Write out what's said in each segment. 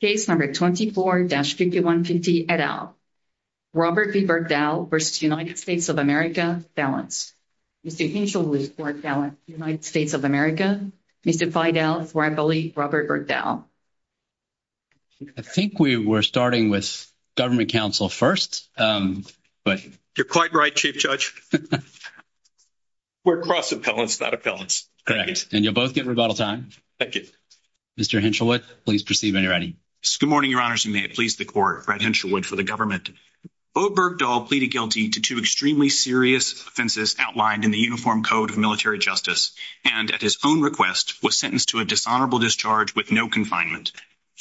Case number 24-5150 et al., Robert B. Bergdahl v. United States of America, Felons. Mr. Hinshelwood v. United States of America, Mr. Feudal, Rivalry, Robert Bergdahl. I think we were starting with government counsel first but... You're quite right, Chief Judge. We're crossing felons, not appellants. And you'll both get rebuttal time. Thank you. Mr. Hinshelwood, please proceed when you're ready. Good morning, Your Honors, and may it please the Court, Brad Hinshelwood for the government. Obergdahl pleaded guilty to two extremely serious offenses outlined in the Uniform Code of Military Justice and, at his own request, was sentenced to a dishonorable discharge with no confinement.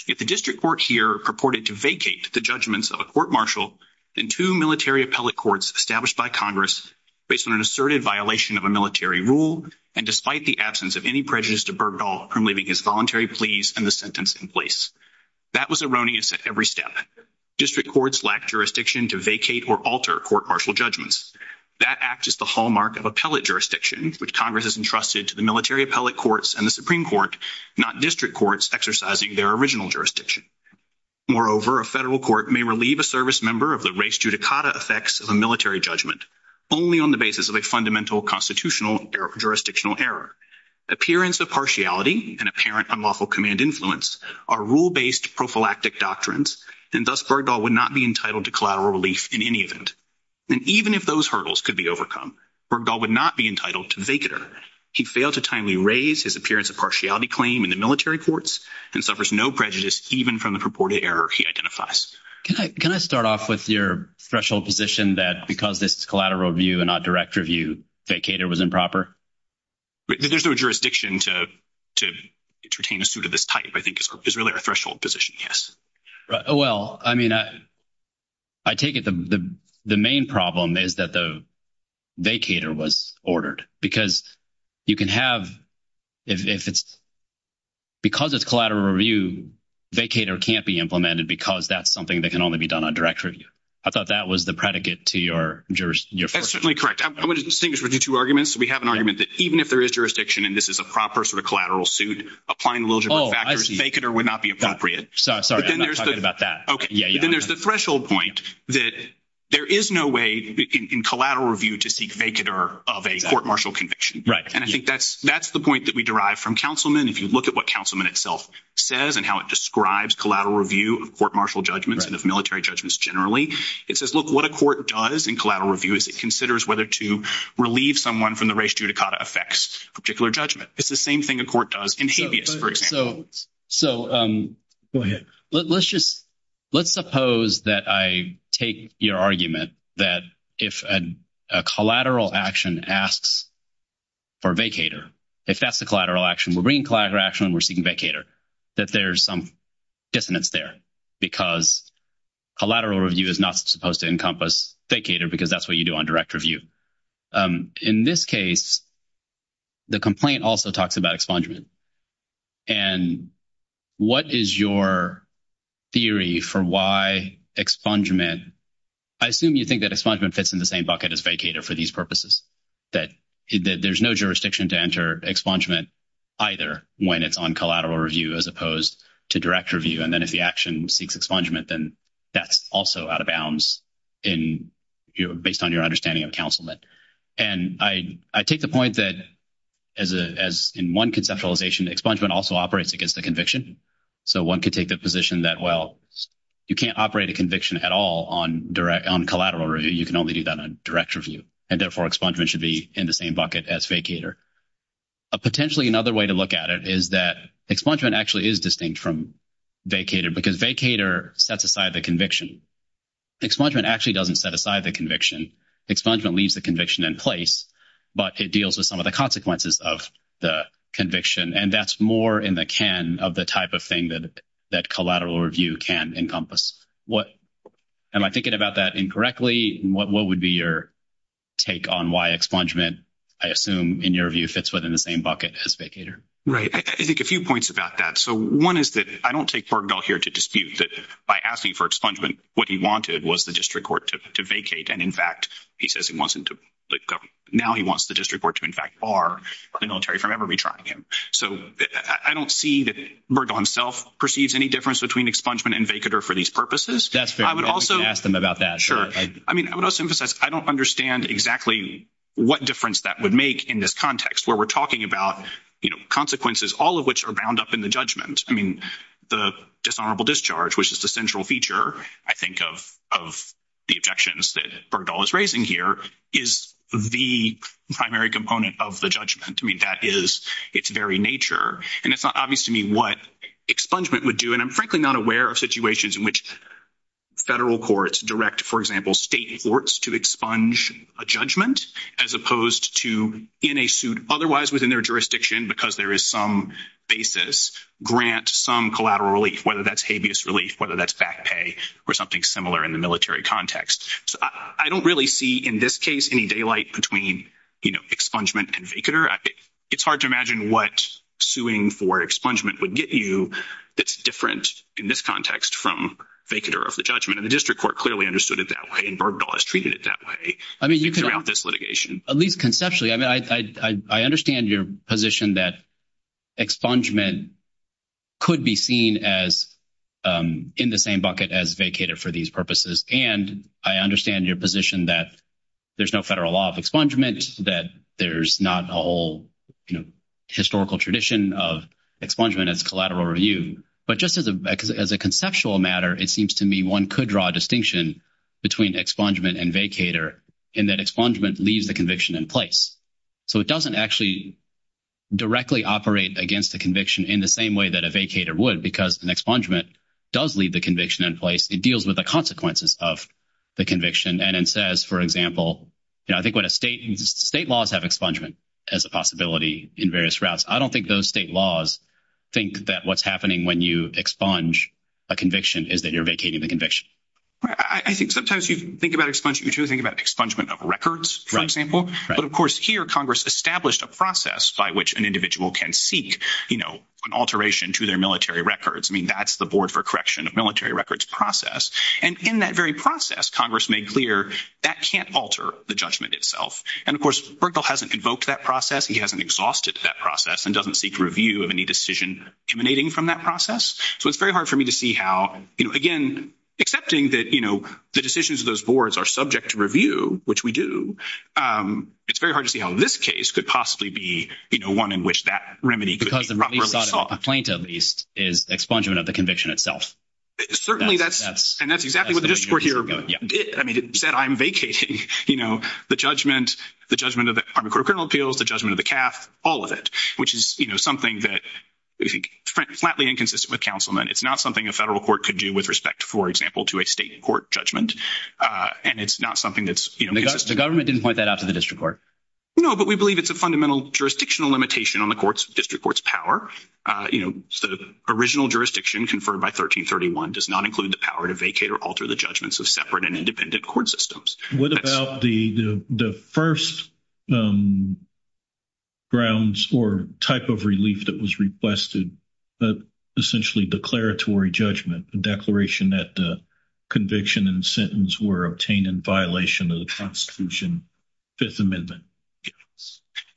If the district court here purported to vacate the judgments of a court-martial, then two military appellate courts established by Congress, based on an asserted violation of military rule and despite the absence of any prejudice to Bergdahl for leaving his voluntary pleas and the sentence in place. That was erroneous at every step. District courts lack jurisdiction to vacate or alter court-martial judgments. That act is the hallmark of appellate jurisdiction, which Congress has entrusted to the military appellate courts and the Supreme Court, not district courts exercising their original jurisdiction. Moreover, a federal court may relieve a service member of the res judicata effects of a military judgment only on the basis of a fundamental constitutional jurisdictional error. Appearance of partiality and apparent unlawful command influence are rule-based prophylactic doctrines, and thus Bergdahl would not be entitled to collateral relief in any event. And even if those hurdles could be overcome, Bergdahl would not be entitled to the vacater. He failed to timely raise his appearance of partiality claim in the military courts and suffers no prejudice even from the purported error he identifies. Can I start off with your threshold position that because this is collateral review and not direct review, vacater was improper? There's no jurisdiction to entertain a suit of this type. I think it's really a threshold position, yes. Well, I mean, I take it the main problem is that the vacater was ordered. Because you can have, if it's, because it's collateral review, vacater can't be implemented because that's something that can only be done on direct review. I thought that was the predicate to your first. That's certainly correct. I want to distinguish between two arguments. We have an argument that even if there is jurisdiction and this is a proper sort of collateral suit, applying a little bit of factors, vacater would not be appropriate. Sorry, I'm not talking about that. Okay. Then there's the threshold point that there is no way in collateral review to seek vacater of a court martial conviction. And I think that's the point that we derive from Councilman. If you look at what Councilman itself says and how it describes collateral review of court martial judgments and of military judgments generally, it says, look, what a court does in collateral review is it considers whether to relieve someone from the race judicata affects a particular judgment. It's the same thing a court does in habeas, for example. So go ahead. Let's suppose that I take your argument that if a collateral action asks for vacater, if that's the collateral action, we're bringing collateral action and we're seeking vacater, that there's some dissonance there because collateral review is not supposed to encompass vacater because that's what you do on direct review. In this case, the complaint also talks about expungement. And what is your theory for why expungement, I assume you think that expungement fits in the same bucket as vacater for these purposes, that there's no jurisdiction to enter expungement either when it's on collateral review as opposed to direct review. And then if the action seeks expungement, then that's also out of bounds in based on your understanding of counsel. And I take the point that as in one conceptualization, expungement also operates against the conviction. So one could take the position that, well, you can't operate a conviction at all on direct, on collateral review. You can only do that on direct review and therefore expungement should be in the same bucket as vacater. Potentially another way to look at it is that expungement actually is distinct from vacater because vacater sets aside the conviction. Expungement actually doesn't set aside the conviction. Expungement leaves the conviction in place, but it deals with some of the consequences of the conviction. And that's more in the can of the type of thing that collateral review can encompass. Am I thinking about that incorrectly? What would be your take on why expungement, I assume in your view, fits within the same bucket as vacater? Right. I think a few points about that. So one is that I don't take Bergdahl here to dispute that by asking for expungement, what he wanted was the district court to vacate. And in fact, he says he wants him to, now he wants the district court to in fact bar the military from ever retrying him. So I don't see that Bergdahl himself perceives any difference between expungement and vacater for these purposes. I would also, I mean, I would also emphasize, I don't understand exactly what difference that would make in this context where we're talking about consequences, all of which are bound up in the judgment. I mean, the dishonorable discharge, which is the central feature, I think, of the objections that Bergdahl is raising here is the primary component of the judgment. I mean, that is its very nature. And it's not obvious to me what expungement would do. And I'm frankly not aware of situations in which federal courts direct, for example, state courts to expunge a judgment as opposed to otherwise within their jurisdiction, because there is some basis, grant some collateral relief, whether that's habeas relief, whether that's back pay or something similar in the military context. So I don't really see in this case any daylight between, you know, expungement and vacater. It's hard to imagine what suing for expungement would get you that's different in this context from vacater of the judgment. And the district court clearly understood it that way and Bergdahl has treated it that way throughout this litigation. At least conceptually. I mean, I understand your position that expungement could be seen as in the same bucket as vacater for these purposes. And I understand your position that there's no federal law of expungement, that there's not a whole, you know, historical tradition of expungement as collateral review. But just as a conceptual matter, it seems to me one could draw a distinction between expungement and vacater in that expungement leaves the conviction in place. So it doesn't actually directly operate against the conviction in the same way that a vacater would because an expungement does leave the conviction in place. It deals with the consequences of the conviction. And it says, for example, you know, I think when a state, state laws have expungement as a possibility in various routes, I don't think those state laws think that what's happening when you expunge a conviction is that you're vacating the conviction. Right. I think sometimes you think about expungement, you do think about expungement of records, for example. But, of course, here Congress established a process by which an individual can seek, you know, an alteration to their military records. I mean, that's the board for correction of military records process. And in that very process, Congress made clear that can't alter the judgment itself. And, of course, Bergdahl hasn't invoked that process. He hasn't exhausted that process and doesn't seek review of any decision emanating from that process. So it's very hard for me to see how, you know, again, accepting that, you know, the decisions of those boards are subject to review, which we do, it's very hard to see how this case could possibly be, you know, one in which that remedy could be properly solved. Because the main complaint, at least, is expungement of the conviction itself. Certainly that's, and that's exactly what the district court here did. I mean, it said I'm vacating, you know, the judgment, the judgment of the Army Corps of Criminal Appeals, the judgment of the CAF, all of it, which is, you know, something that is flatly inconsistent with councilmen. It's not something a federal court could do with respect, for example, to a state court judgment. And it's not something that's, you know... The government didn't point that out to the district court. No, but we believe it's a fundamental jurisdictional limitation on the court's, district court's power. You know, the original jurisdiction conferred by 1331 does not include the power to vacate or alter the judgments of separate and independent court systems. What about the first grounds or type of relief that was requested, but essentially declaratory judgment, the declaration that the conviction and sentence were obtained in violation of the Constitution, Fifth Amendment?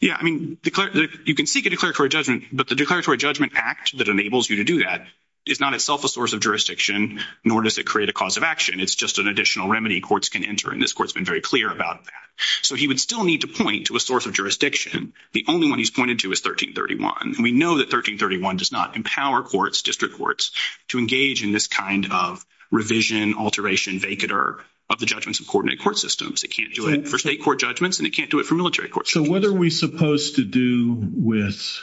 Yeah, I mean, you can seek a declaratory judgment, but the declaratory judgment act that enables you to do that is not itself a source of jurisdiction, nor does it create a cause of action. It's just an additional remedy courts can enter. And this court's been very clear about that. So he would still need to point to a source of jurisdiction. The only one he's pointed to is 1331. And we know that 1331 does not empower courts, district courts, to engage in this kind of revision, alteration, vacater of the judgments of coordinate court systems. It can't do it for state court judgments, and it can't do it for military courts. So what are we supposed to do with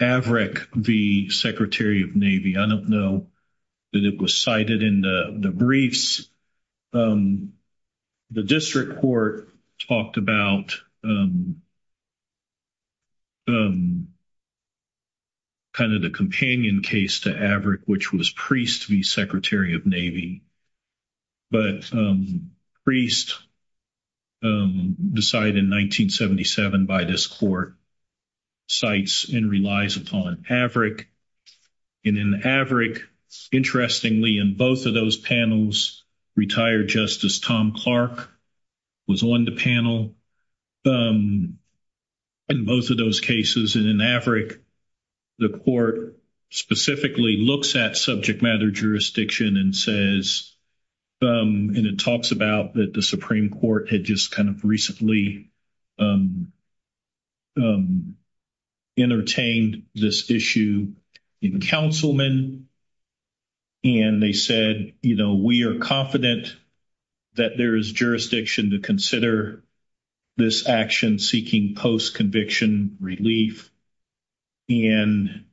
Avrec, the Secretary of Navy? I don't know that it was cited in the briefs. The district court talked about kind of the companion case to Avrec, which was Priest v. Secretary of Navy. But Priest, decided in 1977 by this court, cites and relies upon Avrec. And in Avrec, interestingly, in both of those panels, retired Justice Tom Clark was on the panel in both of those cases. And in Avrec, the court specifically looks at subject matter jurisdiction and says, and it talks about that the Supreme Court had just kind of recently entertained this issue in councilmen. And they said, you know, we are confident that there is jurisdiction to consider this action seeking post-conviction relief. And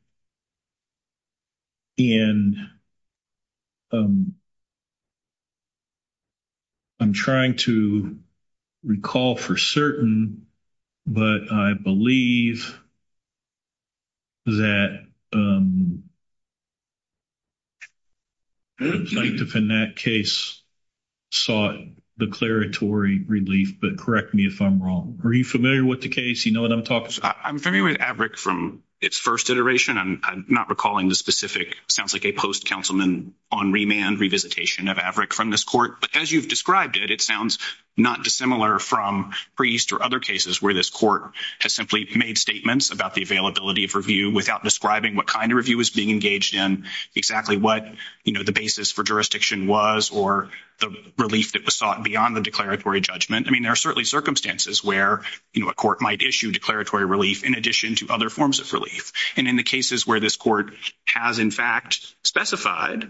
I'm trying to recall for certain, but I believe that plaintiff in that case sought declaratory relief, but correct me if I'm wrong. Are you familiar with the case? You know what I'm talking about? I'm familiar with Avrec from its first iteration. I'm not recalling the specific, sounds like a post-councilman on remand, revisitation of Avrec from this court. But as you've described it, it sounds not dissimilar from Priest or other cases where this court has simply made statements about the availability of review without describing what kind of review was being engaged in exactly what, you know, the basis for jurisdiction was or the relief that was sought beyond the declaratory judgment. I mean, there are certainly circumstances where, you know, a court might issue declaratory relief in addition to other forms of relief. And in the cases where this court has, in fact, specified,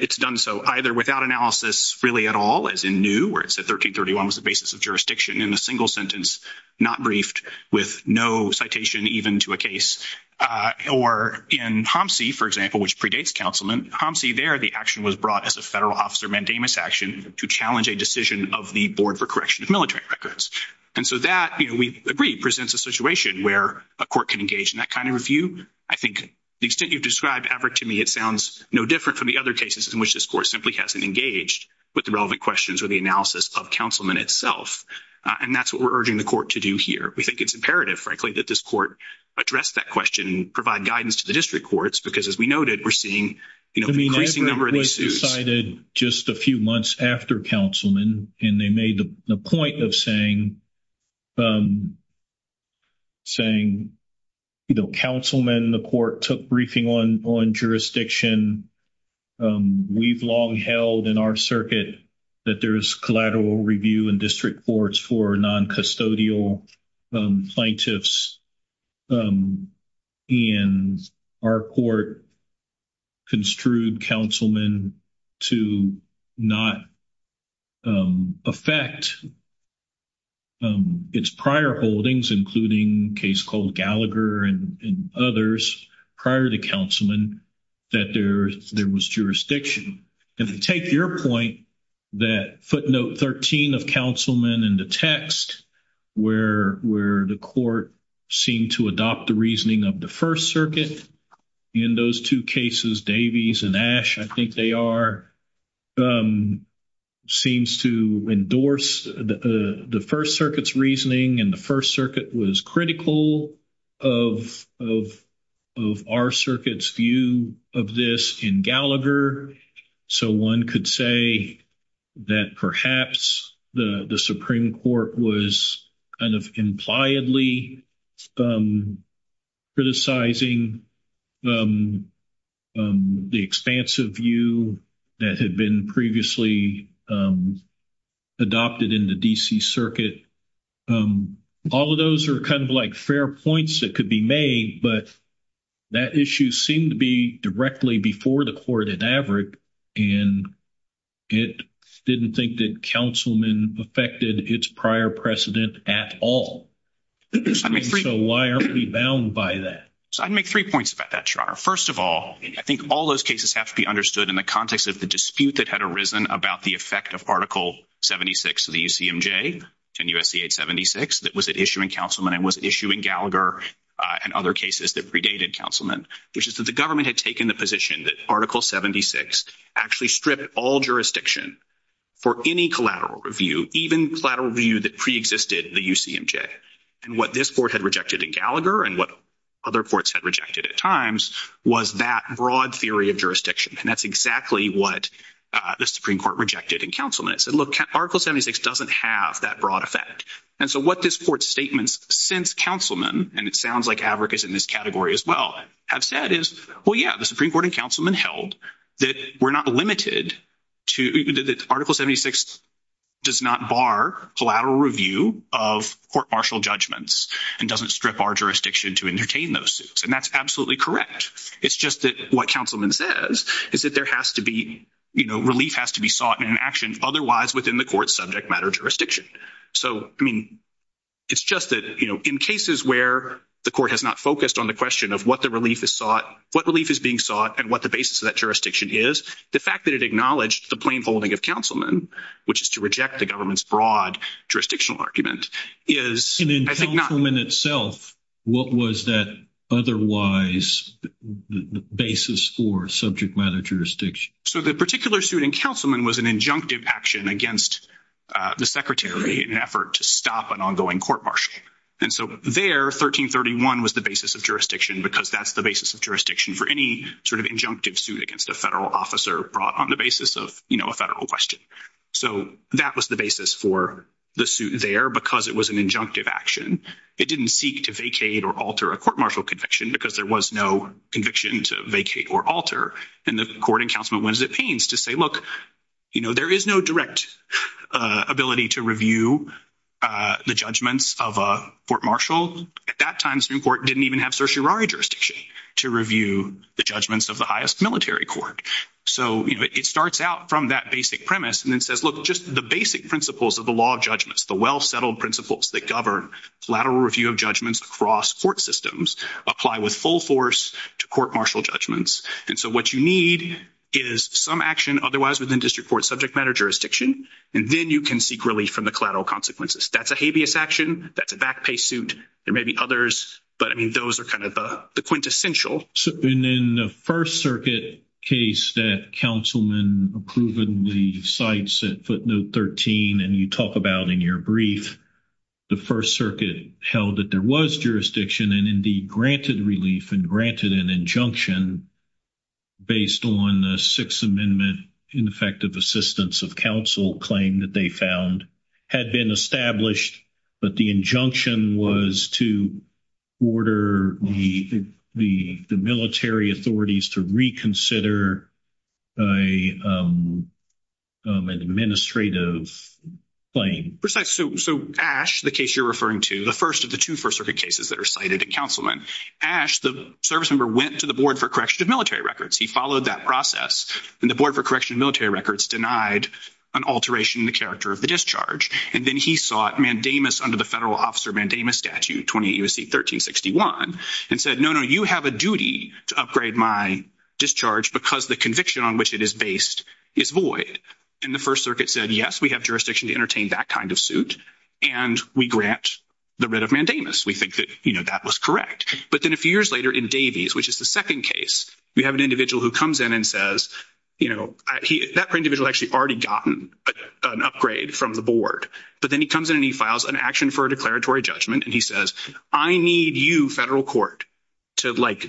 it's done so either without analysis really at all, as in New, where it said 1331 was the basis of jurisdiction in a single sentence, not briefed, with no citation even to a case. Or in Homsi, for example, which predates councilman, Homsi there, the action was brought as a federal officer mandamus action to challenge a decision of the board for correction of military records. And so that, you know, we agree presents a situation where a court can engage in that kind of review. I think the extent you've described, Everett, to me, it sounds no different from the other cases in which this court simply hasn't engaged with the relevant questions or the analysis of councilman itself. And that's what we're urging the court to do here. We think it's imperative, frankly, that this court address that question and provide guidance to the district courts, because as we noted, we're seeing, you know, an increasing number of these suits. I mean, Everett was decided just a few months after councilman, and they made the point of saying, you know, councilman, the court took briefing on jurisdiction. We've long held in our circuit that there is collateral review in district courts for non-custodial plaintiffs. And our court construed councilman to not affect its prior holdings, including a case called Gallagher and others prior to councilman, that there was jurisdiction. And to take your point, that footnote 13 of councilman in the text, where the court seemed to adopt the reasoning of the First Circuit, in those two cases, Davies and Ash, I think they are, seems to endorse the First Circuit's reasoning, and the First Circuit was critical of our circuit's view of this in Gallagher. So one could say that perhaps the Supreme Court was kind of impliedly criticizing the expansive view that had been previously adopted in the D.C. Circuit. All of those are kind of like fair points that could be made, but that issue seemed to be directly before the court in Everett, and it didn't think that councilman affected its prior precedent at all. So why aren't we bound by that? So I'd make three points about that, Your Honor. First of all, I think all those cases have to be understood in the context of the dispute that had arisen about the effect of Article 76 of the UCMJ and U.S.C. 876 that was at issue in councilman and was at issue in Gallagher and other cases that predated councilman, which is that the government had taken the position that Article 76 actually stripped all jurisdiction for any collateral review, even collateral review that preexisted the UCMJ. And what this court had rejected in Gallagher and what other courts had rejected at times was that broad theory of jurisdiction, and that's exactly what the Supreme Court rejected in councilman. It said, look, Article 76 doesn't have that broad effect. And so what this court's statements since councilman, and it sounds like advocates in this category as well, have said is, well, yeah, the Supreme Court and councilman held that we're not limited to—that Article 76 does not bar collateral review of court martial judgments and doesn't strip our jurisdiction to entertain those suits. And that's absolutely correct. It's just that what councilman says is that there has to be, you know, relief has to be sought in an action otherwise within the court's subject matter jurisdiction. So, I mean, it's just that, you know, in cases where the court has not focused on the question of what the relief is being sought and what the basis of that jurisdiction is, the fact that it acknowledged the plain folding of councilman, which is to reject the government's broad jurisdictional argument, is— And in councilman itself, what was that otherwise basis for subject matter jurisdiction? So the particular suit in councilman was an injunctive action against the secretary in an effort to stop an ongoing court martial. And so there, 1331 was the basis of jurisdiction because that's the basis of jurisdiction for any sort of injunctive suit against a federal officer brought on the basis of, you know, a federal question. So that was the basis for the suit there because it was an injunctive action. It didn't seek to vacate or alter a court martial conviction because there was no conviction to vacate or alter. And the court and councilman was at pains to say, look, you know, there is no direct ability to review the judgments of a court martial. At that time, Supreme Court didn't even have certiorari jurisdiction to review the judgments of the highest military court. So it starts out from that basic premise and then says, look, just the basic principles of the law judgments, the well-settled principles that govern collateral review of judgments across court systems apply with full force to court martial judgments. And so what you need is some action otherwise within district court subject matter jurisdiction, and then you can seek relief from the collateral consequences. That's a habeas action. That's a vacpay suit. There may be others, but I mean, those are kind of the quintessential. And in the First Circuit case that councilman approvingly cites at footnote 13, and you talk about in your brief, the First Circuit held that there was jurisdiction and indeed granted relief and granted an injunction based on the Sixth Amendment Ineffective Assistance of Counsel claim that they found had been established, but the injunction was to order the military authorities to reconsider an administrative claim. Precisely. So Ash, the case you're referring to, the first of the two First Circuit cases that are cited at councilman, Ash, the service member went to the board for correction of military records. He followed that process, and the board for correction of military records denied an alteration in the character of the discharge. And then he sought mandamus under the federal officer mandamus statute 28 U.S.C. 1361 and said, no, no, you have a duty to upgrade my discharge because the conviction on which it is based is void. And the First Circuit said, yes, we have jurisdiction to entertain that kind of suit, and we grant the writ of mandamus. We think that that was correct. But then a few years later in Davies, which is the second case, we have an individual who comes in and says, you know, that individual actually already gotten an upgrade from the board. But then he comes in and he files an action for a declaratory judgment, and he says, I need you, federal court, to, like,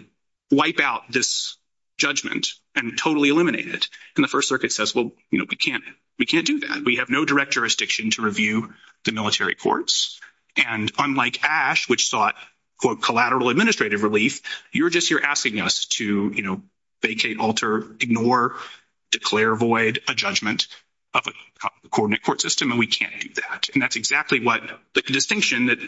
wipe out this judgment and totally eliminate it. And the First Circuit says, well, you know, we can't do that. We have no direct jurisdiction to review the military courts. And unlike Ash, which sought, quote, collateral administrative relief, you're just here asking us to, you know, vacate, alter, ignore, declare void a judgment of a coordinate court system, and we can't do that. And that's exactly what the distinction that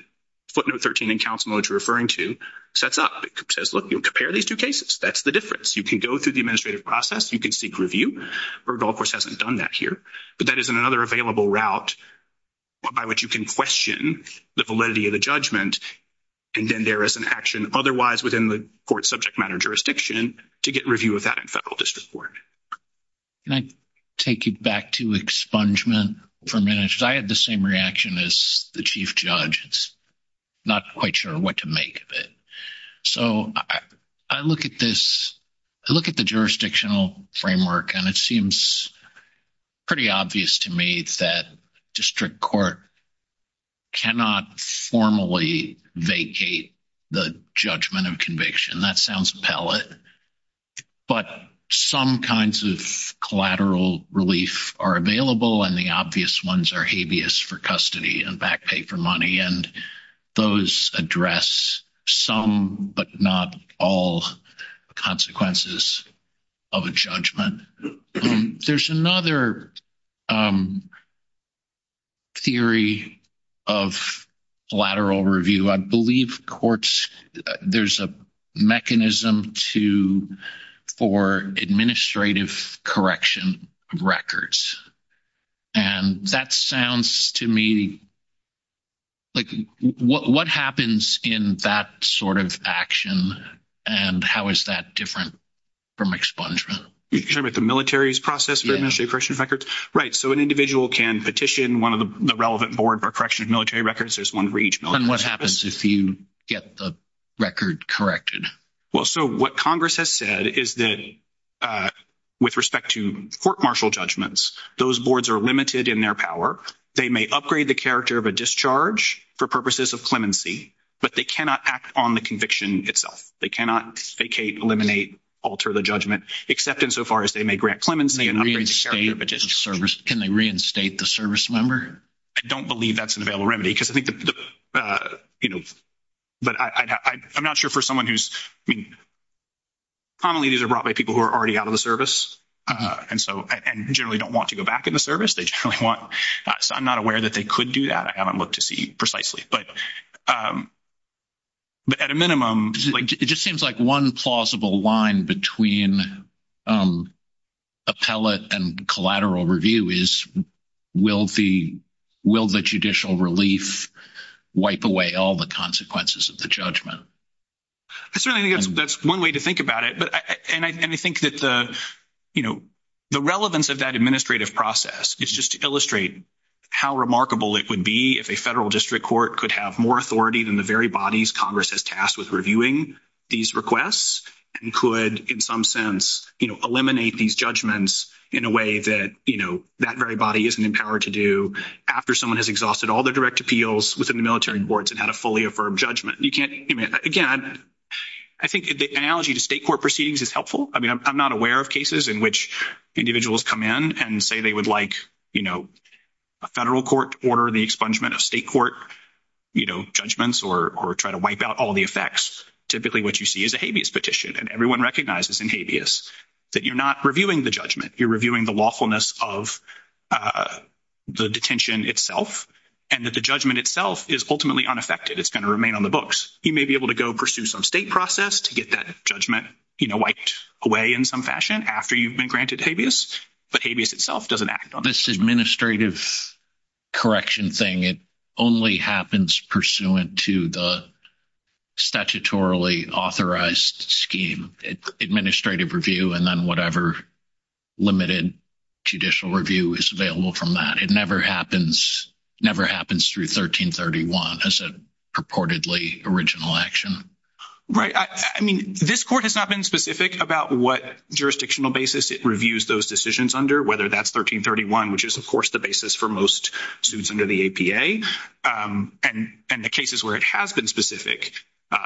footnote 13 in counsel notes referring to sets up. It says, look, you compare these two cases. That's the difference. You can go through the administrative process. You can seek review. Erdogan, of course, hasn't done that here. But that is another available route by which you can the validity of the judgment, and then there is an action otherwise within the court subject matter jurisdiction to get review of that in federal district court. Can I take you back to expungement for a minute? Because I had the same reaction as the chief judge. I'm not quite sure what to make of it. So I look at this, I look at the jurisdictional cannot formally vacate the judgment of conviction. That sounds pellet. But some kinds of collateral relief are available, and the obvious ones are habeas for custody and back pay for money. And those address some but not all consequences of a judgment. There's another theory of lateral review. I believe courts, there's a mechanism for administrative correction of records. And that sounds to me like what happens in that sort of action, and how is that different from expungement? You're talking about the military's process for administrative correction of records? Right. So an individual can petition one of the relevant board for correction of military records. There's one for each military. And what happens if you get the record corrected? Well, so what Congress has said is that with respect to court martial judgments, those boards are limited in their power. They may upgrade the character of a discharge for purposes of clemency, but they cannot act on the conviction itself. They cannot vacate, eliminate, alter the judgment, except insofar as they may grant clemency. Can they reinstate the service member? I don't believe that's an available remedy. But I'm not sure for someone who's, I mean, commonly these are brought by people who are already out of the service and generally don't want to go back in the service. I'm not aware that they could do that. I haven't looked to see precisely. But at a minimum, it just seems like one plausible line between appellate and collateral review is will the judicial relief wipe away all the consequences of the judgment? I certainly think that's one way to think about it. And I think that the, you know, the relevance of that administrative process is just to illustrate how remarkable it would be if a federal district court could have more authority than the very bodies Congress has tasked with reviewing these requests and could, in some sense, you know, eliminate these judgments in a way that, you know, that very body isn't empowered to do after someone has exhausted all the direct appeals within the military boards and had a fully affirmed judgment. You can't, again, I think the analogy to state court proceedings is helpful. I mean, I'm not aware of cases in which individuals come in and say they would like, you know, a federal court to order the expungement of state court, you know, judgments or try to wipe out all the effects. Typically, what you see is a habeas petition. And everyone recognizes in habeas that you're not reviewing the judgment. You're reviewing the lawfulness of the detention itself and that the judgment itself is ultimately unaffected. It's going to remain on the books. You may be able to go pursue some state process to get that judgment, you know, wiped away in some fashion after you've been granted habeas, but habeas itself doesn't act on it. This administrative correction thing, it only happens pursuant to the statutorily authorized scheme, administrative review, and then whatever limited judicial review is available from that. It never happens through 1331 as a purportedly original action. Right. I mean, this court has not been specific about what jurisdictional basis it reviews those decisions under, whether that's 1331, which is, of course, the basis for most students under the APA. And the cases where it has been specific,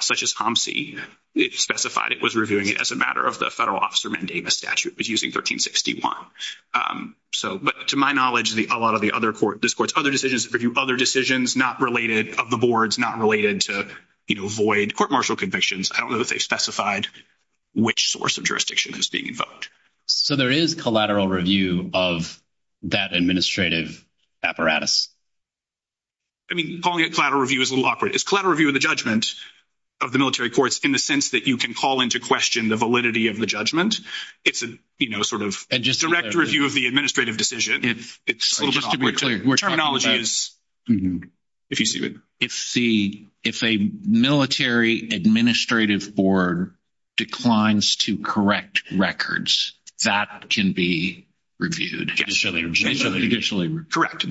such as HOMC, it specified it was reviewing it as a matter of the federal officer mandating the statute, but using 1361. So, but to my knowledge, a lot of the other court, this court's other decisions review other decisions not related of the boards, not related to, you know, void court martial convictions. I don't know that they specified which source of jurisdiction is being invoked. So, there is collateral review of that administrative apparatus? I mean, calling it collateral review is a little awkward. It's collateral review of the judgment of the military courts in the sense that you can call into question the validity of the judgment. It's a, you know, sort of direct review of the administrative decision. Just to be clear, if a military administrative board declines to correct records, that can be reviewed? Correct.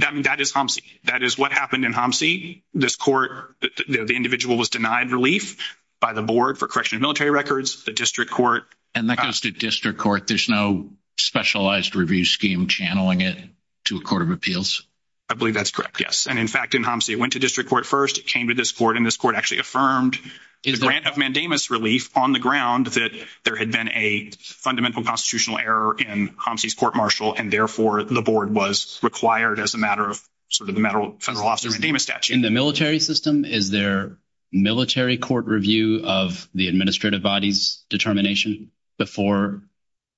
That is HOMC. That is what happened in HOMC. This court, the individual was denied relief by the board for correction of military records, the district court. And that goes to district court. There's no specialized review scheme channeling it to a court of appeals? I believe that's correct, yes. And in fact, in HOMC, it went to district court first, it came to this court, and this court actually affirmed the grant of mandamus relief on the ground that there had been a fundamental constitutional error in HOMC's court martial, and therefore the board was required as a matter of sort of the federal officer mandamus statute. In the military system, is there military court review of the administrative body's determination before?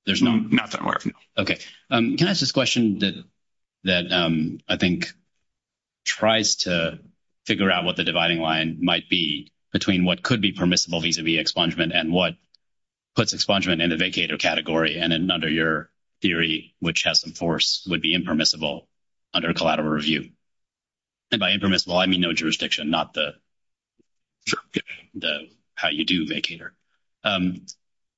There's no? Not that I'm aware of, no. Okay. Can I ask this question that I think tries to figure out what the dividing line might be between what could be permissible vis-a-vis expungement and what puts expungement in the vacator category and under your theory, which has some force, would be impermissible under a collateral review? And by impermissible, I mean no jurisdiction, not the jurisdiction, the how you do vacator.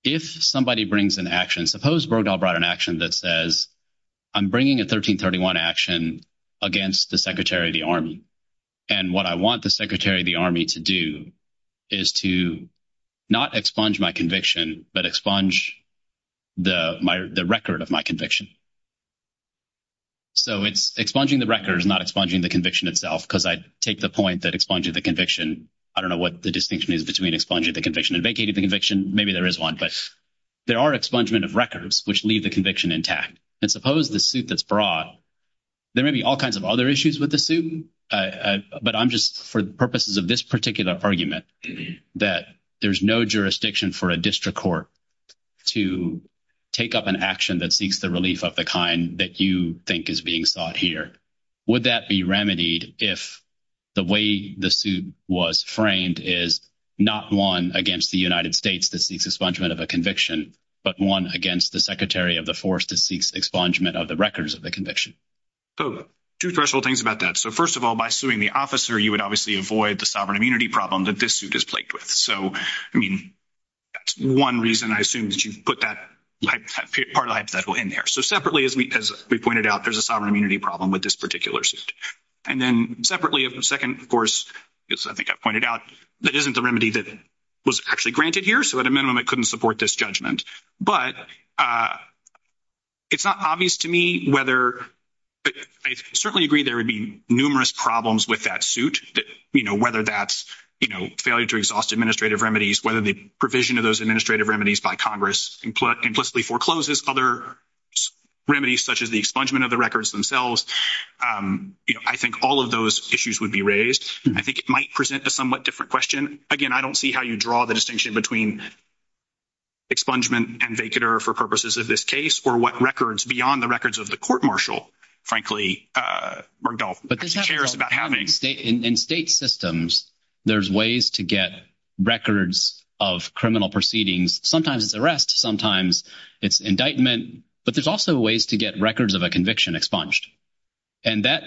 If somebody brings an action, suppose Bergdahl brought an action that says, I'm bringing a 1331 action against the Secretary of the Army, and what I want the Secretary of the Army to do is to not expunge my conviction, but expunge the record of my conviction. So expunging the record is not expunging the conviction itself, because I take the point that expunging the conviction, I don't know what the distinction is between expunging the conviction and vacating the conviction, maybe there is one, but there are expungement of records which leave the conviction intact. And suppose the suit that's brought, there may be all kinds of other issues with the suit, but I'm just, for the purposes of this particular argument, that there's no jurisdiction for a district court to take up an action that seeks the relief of the kind that you think is being sought here. Would that be remedied if the way the suit was framed is not one against the United States that seeks expungement of a conviction, but one against the Secretary of the Force that seeks expungement of the records of the conviction? So two threshold things about that. So first of all, by suing the officer, you would obviously avoid the sovereign immunity problem that this suit is plagued with. So I mean, that's one reason I assume that you put that part of the hypothetical in there. So separately, as we pointed out, there's a sovereign immunity problem with this particular suit. And then separately, the second, of course, I think I pointed out, that isn't the remedy that was actually granted here. So at a minimum, I couldn't support this judgment. But it's not obvious to me whether, I certainly agree there would be numerous problems with that suit, whether that's failure to exhaust administrative remedies, whether the provision of those administrative remedies by Congress implicitly forecloses other remedies, such as the expungement of the records themselves. I think all of those issues would be raised. I think it might present a somewhat different question. Again, I don't see how you draw the distinction between expungement and vacater for purposes of this case, or what records beyond the records of the court-martial, frankly, Murdoch cares about having. In state systems, there's ways to get records of criminal proceedings. Sometimes it's arrest, sometimes it's indictment. But there's also ways to get records of a conviction expunged. And that,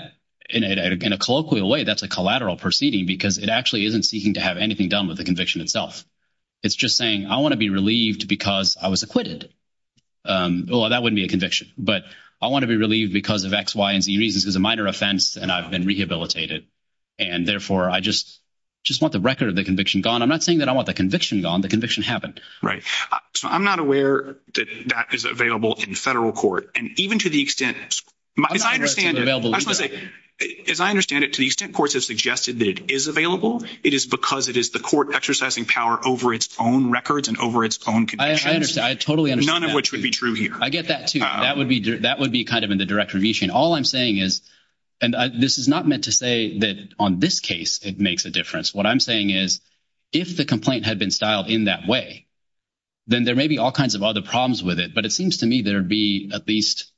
in a colloquial way, that's a collateral proceeding, because it actually isn't seeking to have anything done with the conviction itself. It's just saying, I want to be relieved because I was acquitted. Well, that wouldn't be a conviction. But I want to be relieved because this is a minor offense, and I've been rehabilitated. And therefore, I just want the record of the conviction gone. I'm not saying that I want the conviction gone. The conviction happened. Right. So I'm not aware that that is available in federal court. And even to the extent... As I understand it, to the extent courts have suggested that it is available, it is because it is the court exercising power over its own records and over its own... I understand. I totally understand. None of which would be true here. I get that, too. That would be kind of in the direct review chain. All I'm saying is, and this is not meant to say that on this case, it makes a difference. What I'm saying is, if the complaint had been styled in that way, then there may be all kinds of other problems with it. But it seems to me there'd be at least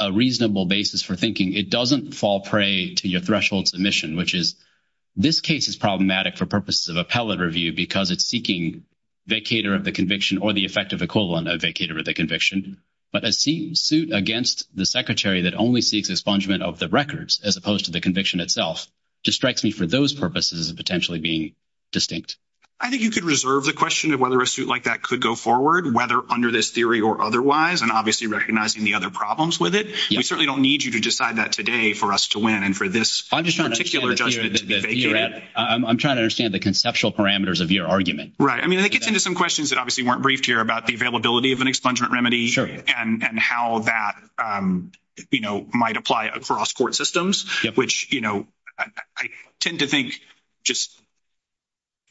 a reasonable basis for thinking it doesn't fall prey to your threshold submission, which is, this case is problematic for purposes of appellate review because it's seeking vacator of the conviction or the effective equivalent of vacator of the conviction. But a suit against the secretary that only seeks expungement of the records, as opposed to the conviction itself, just strikes me for those purposes of potentially being distinct. I think you could reserve the question of whether a suit like that could go forward, whether under this theory or otherwise, and obviously recognizing the other problems with it. We certainly don't need you to decide that today for us to win and for this... I'm trying to understand the conceptual parameters of your argument. Right. I mean, it gets into some questions that obviously weren't briefed here about the availability of an expungement remedy and how that might apply across court systems, which I tend to think just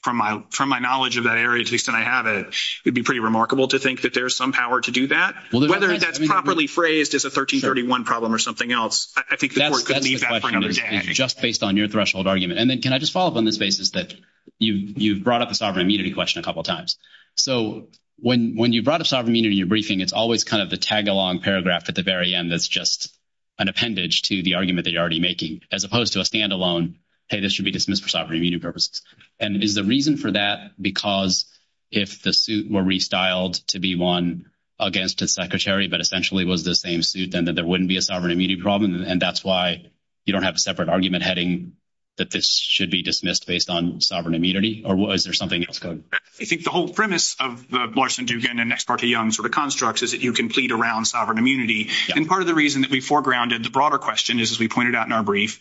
from my knowledge of that area, at least that I have it, it'd be pretty remarkable to think that there's some power to do that. Whether that's properly phrased as a 1331 problem or something else, I think the court could need that for another day. Just based on your threshold argument. And then can I just follow up on this basis that you've brought up the sovereign immunity question a couple of times. So when you brought up sovereign immunity in your briefing, it's always kind of the tag along paragraph at the very end that's just an appendage to the argument that you're already making, as opposed to a standalone, hey, this should be dismissed for sovereign immunity purposes. And is the reason for that because if the suit were restyled to be won against a secretary, but essentially was the same suit, then there wouldn't be a sovereign immunity problem. And that's why you don't have a separate argument heading that this should be dismissed based on sovereign immunity or was there something else going? I think the whole premise of the Blarsen-Dugan and Ex parte Young sort of constructs is that you can plead around sovereign immunity. And part of the reason that we foregrounded the broader question is, as we pointed out in our brief,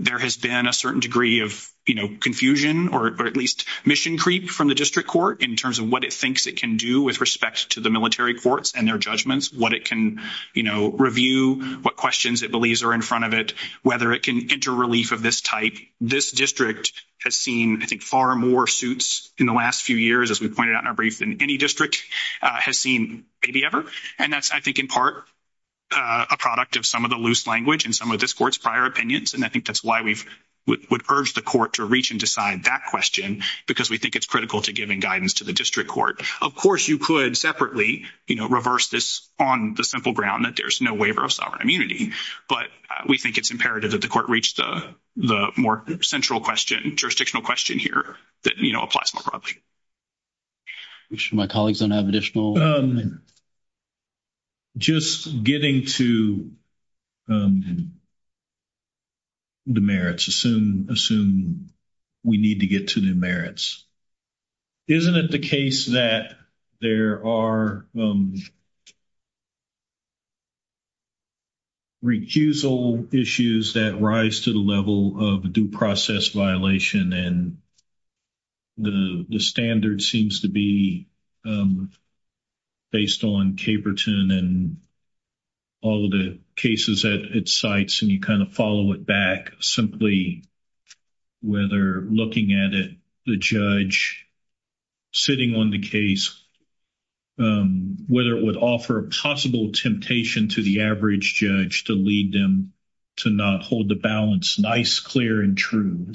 there has been a certain degree of confusion or at least mission creep from the district court in terms of what it thinks it can do with respect to the military courts and their judgments, what it can review, what questions it believes are in front of it, whether it can enter relief of this type. This district has seen, I think, far more suits in the last few years, as we pointed out in our brief, than any district has seen maybe ever. And that's, I think, in part a product of some of the loose language and some of this court's prior opinions. And I think that's why we would urge the court to reach and decide that question, because we think it's critical to giving guidance to the district court. Of course, you could separately reverse this on the simple ground that there's no waiver of sovereign immunity. But we think it's imperative that the court reach the more central question, jurisdictional question here, that applies more broadly. My colleagues don't have additional. Just getting to the merits, assume we need to get to the merits. Isn't it the case that there are recusal issues that rise to the level of due process violation? And the standard seems to be based on Caperton and all of the cases that it cites, and you kind of follow it back, simply whether looking at it, the judge sitting on the case, whether it would offer a possible temptation to the average judge to lead them to not hold the balance nice, clear, and true,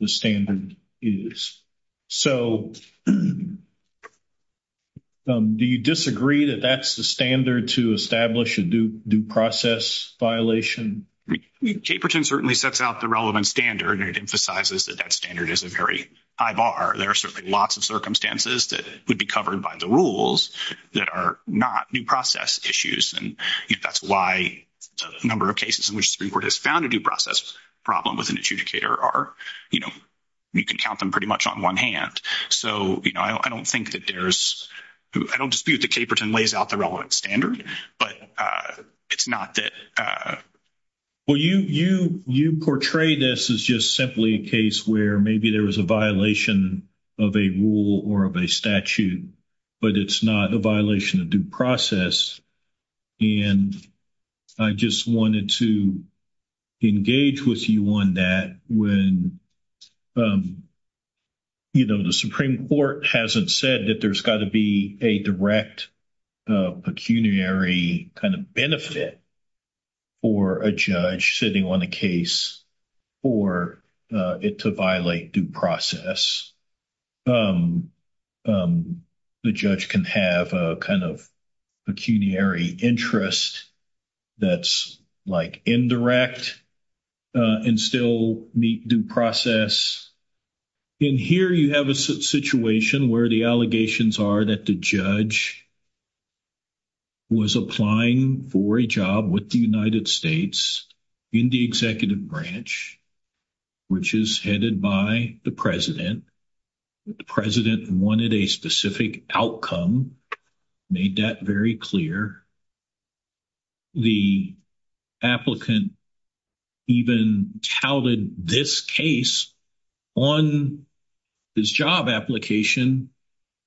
the standard is. So do you disagree that that's the standard to establish a due process violation? Caperton certainly sets out the relevant standard, and it emphasizes that that standard is a very high bar. There are certainly lots of circumstances that would be covered by the rules that are not due process issues, and that's why a number of cases in which the court has found a due process problem with an adjudicator are, you know, you can count them pretty much on one hand. So, you know, I don't think that there's, I don't dispute that Caperton lays out the relevant standard, but it's not that. Well, you portray this as just simply a case where maybe there was a violation of a rule or of a statute, but it's not a violation of due process, and I just wanted to engage with you on that when, you know, the Supreme Court hasn't said that there's got to be a direct pecuniary kind of benefit for a judge sitting on a case for it to violate due process. The judge can have a kind of pecuniary interest that's, like, indirect and still meet due process. In here, you have a situation where the allegations are that the judge was applying for a job with the United States in the executive branch, which is headed by the president. The president wanted a specific outcome, made that very clear. The applicant even touted this case on his job application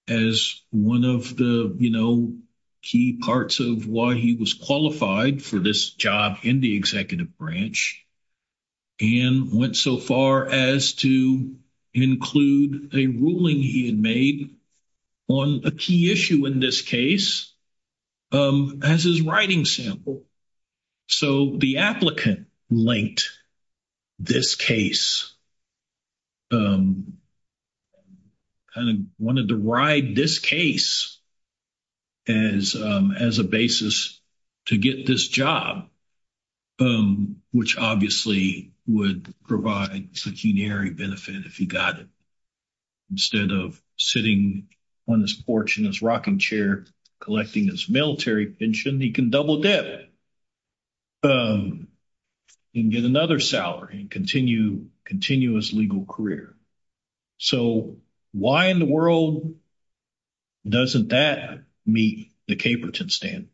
as one of the, you know, key parts of why he was qualified for this job in the executive branch, and went so far as to include a ruling he made on a key issue in this case as his writing sample. So the applicant linked this case, kind of wanted to ride this case as a basis to get this job, which obviously would provide pecuniary benefit if he got it. Instead of sitting on this porch in his rocking chair collecting his military pension, he can double-deb it and get another salary and continue his legal career. So why in the world doesn't that meet the Caperton standard?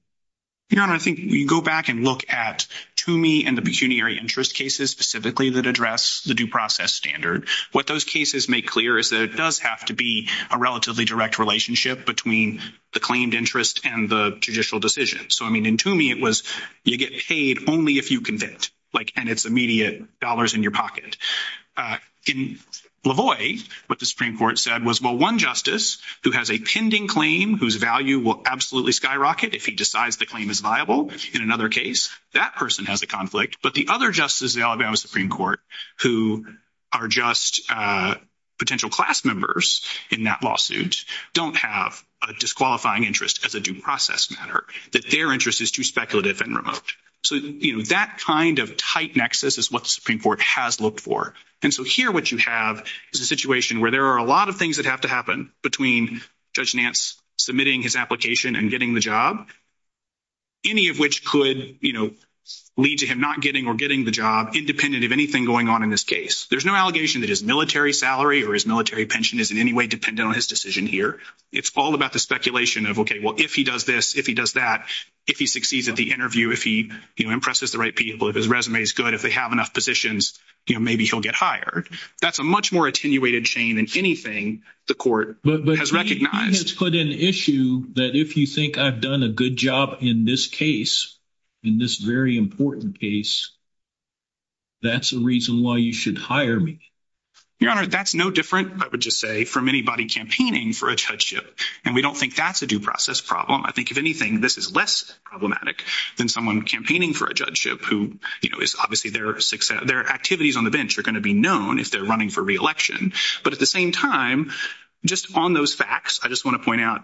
Your Honor, I think you go back and look at Toomey and the pecuniary interest cases specifically that address the due process standard. What those cases make clear is that it does have to be a relatively direct relationship between the claimed interest and the judicial decision. So, I mean, in Toomey it was, you get paid only if you condemn it, and it's immediate dollars in your pocket. In LaVoy, what the Supreme Court said was, well, one justice who has a pending claim whose value will absolutely skyrocket if he decides the claim is viable in another case, that person has a conflict. But the other justice in the Alabama Supreme Court who are just potential class members in that lawsuit don't have a disqualifying interest as a due process matter, that their interest is too speculative and remote. So, you know, that kind of tight nexus is what the Supreme Court has looked for. And so here what you have is a situation where there are a lot of things that have to happen between Judge Nance submitting his application and getting the job, any of which could, you know, lead to him not getting or getting the job independent of anything going on in this case. There's no allegation that his military salary or his military pension is in any way dependent on his decision here. It's all about the speculation of, okay, well, if he does this, if he does that, if he succeeds at the interview, if he, you know, impresses the right people, if his resume is good, if they have enough positions, you know, maybe he'll get hired. That's a much more attenuated chain than anything the court has recognized. But let's put an issue that if you think I've done a good job in this case, in this very important case, that's the reason why you should hire me. Your Honor, that's no different, I would just say, from anybody campaigning for a judgeship. And we don't think that's a due process problem. I think, if anything, this is less problematic than someone campaigning for a judgeship who, you know, is obviously their success, their activities on the bench are going to be known if they're running for re-election. But at the same time, just on those facts, I just want to point out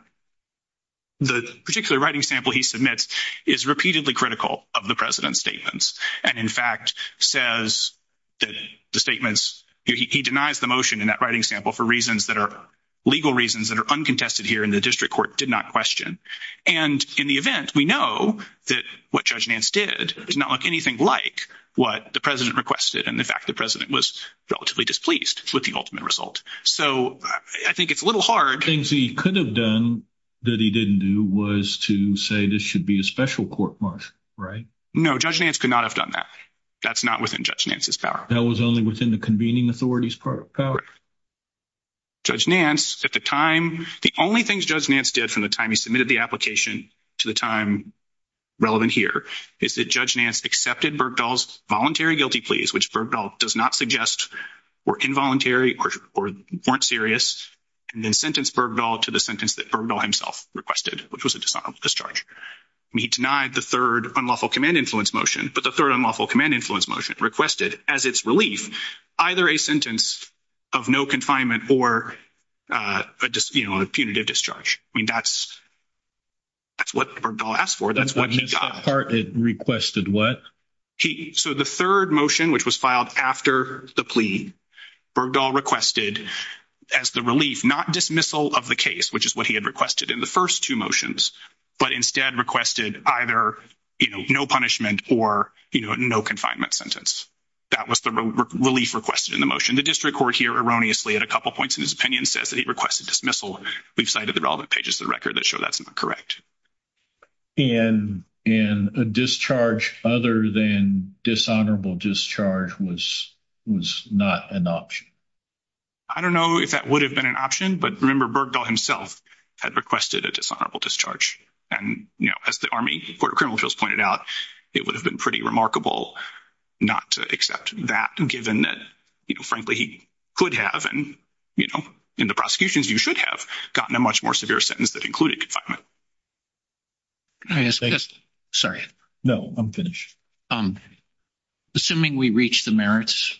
the particular writing sample he submits is repeatedly critical of the President's statements. And in fact, says that the statements, he denies the motion in that writing sample for reasons that are legal reasons that are uncontested here, and the district court did not question. And in the event, we know that what Judge Nance did does not look anything like what the President requested, and the fact the President was relatively displeased with the ultimate result. So I think it's a little hard. One of the things he could have done that he didn't do was to say this should be a special court month, right? No, Judge Nance could not have done that. That's not within Judge Nance's power. That was only within the convening authority's power. Judge Nance, at the time, the only things Judge Nance did from the time he submitted the application to the time relevant here is that Judge Nance accepted Bergdahl's voluntary guilty pleas, which Bergdahl does not suggest were involuntary or weren't serious, and then sentenced Bergdahl to the sentence that Bergdahl himself requested, which was a dishonorable discharge. He denied the third unlawful command influence motion, but the third unlawful command influence motion requested, as its relief, either a sentence of no confinement or a punitive discharge. I mean, that's what Bergdahl asked for. That's what he got. He requested what? So the third motion, which was filed after the plea, Bergdahl requested, as the relief, not dismissal of the case, which is what he had requested in the first two motions, but instead requested either, you know, no punishment or, you know, no confinement sentence. That was the relief requested in the motion. The district court here erroneously, at a couple points in his opinion, says that he requested dismissal. We've cited the relevant pages of the record that show that's not correct. And a discharge other than dishonorable discharge was not an option? I don't know if that would have been an option, but remember Bergdahl himself had requested a dishonorable discharge. And, you know, as the Army Court of Criminal Justice pointed out, it would have been pretty remarkable not to accept that, given that, you know, frankly, he could have, and, you know, in the prosecutions, you should have gotten a much more severe sentence that included confinement. Sorry. No, I'm finished. Um, assuming we reach the merits,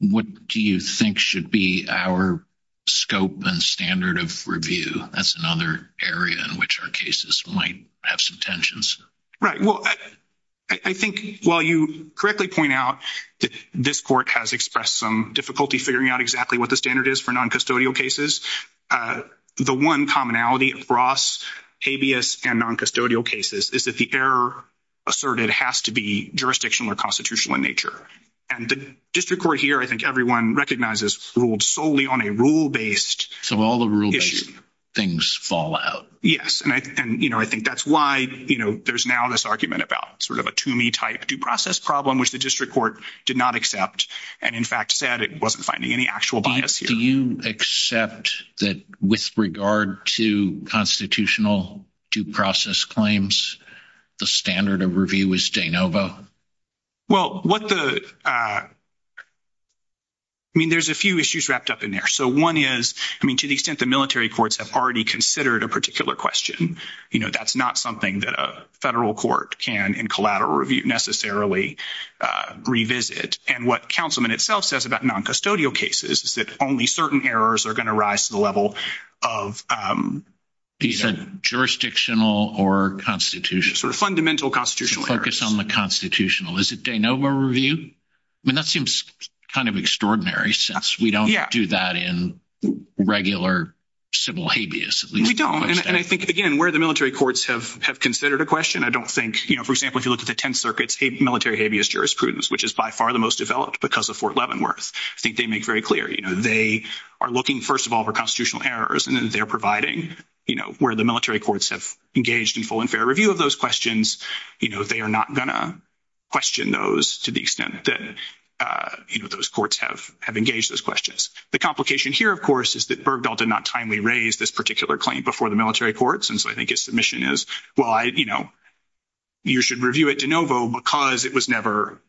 what do you think should be our scope and standard of review? That's another area in which our cases might have some tensions. Right. Well, I think while you correctly point out that this court has expressed some difficulty figuring out exactly what the standard is for noncustodial cases, the one commonality across habeas and noncustodial cases is that the error asserted has to be jurisdictional or constitutional in nature. And the district court here, I think everyone recognizes, ruled solely on a rule-based... So all the rule-based things fall out. Yes, and, you know, I think that's why, you know, there's now this argument about sort of a Toomey-type due process problem, which the district court did not accept and, in fact, said it wasn't finding any actual bias here. Do you accept that with regard to constitutional due process claims, the standard of review is de novo? Well, what the...I mean, there's a few issues wrapped up in there. So one is, I mean, to the extent the military courts have already considered a particular question, you know, that's not something that a federal court can, in collateral review, necessarily revisit. And what councilman itself says about noncustodial cases is that only certain errors are going to rise to the level of... He said jurisdictional or constitutional. Sort of fundamental constitutional errors. Focus on the constitutional. Is it de novo review? I mean, that seems kind of extraordinary since we don't do that in regular civil habeas. We don't. And I think, again, where the military courts have considered a question, I don't think, you know, for example, if you look at the 10th Circuit's military habeas jurisprudence, which is by far the most developed because of Fort Leavenworth, I think they make very clear, you know, they are looking, first of all, for constitutional errors. And then they're providing, you know, where the military courts have engaged in full and fair review of those questions, you know, they are not going to question those to the extent that, you know, those courts have engaged those questions. The complication here, of course, is that Bergdahl did not timely raise this particular claim before the military courts. And so I think his submission is, well, you know, you should review it de novo because it was never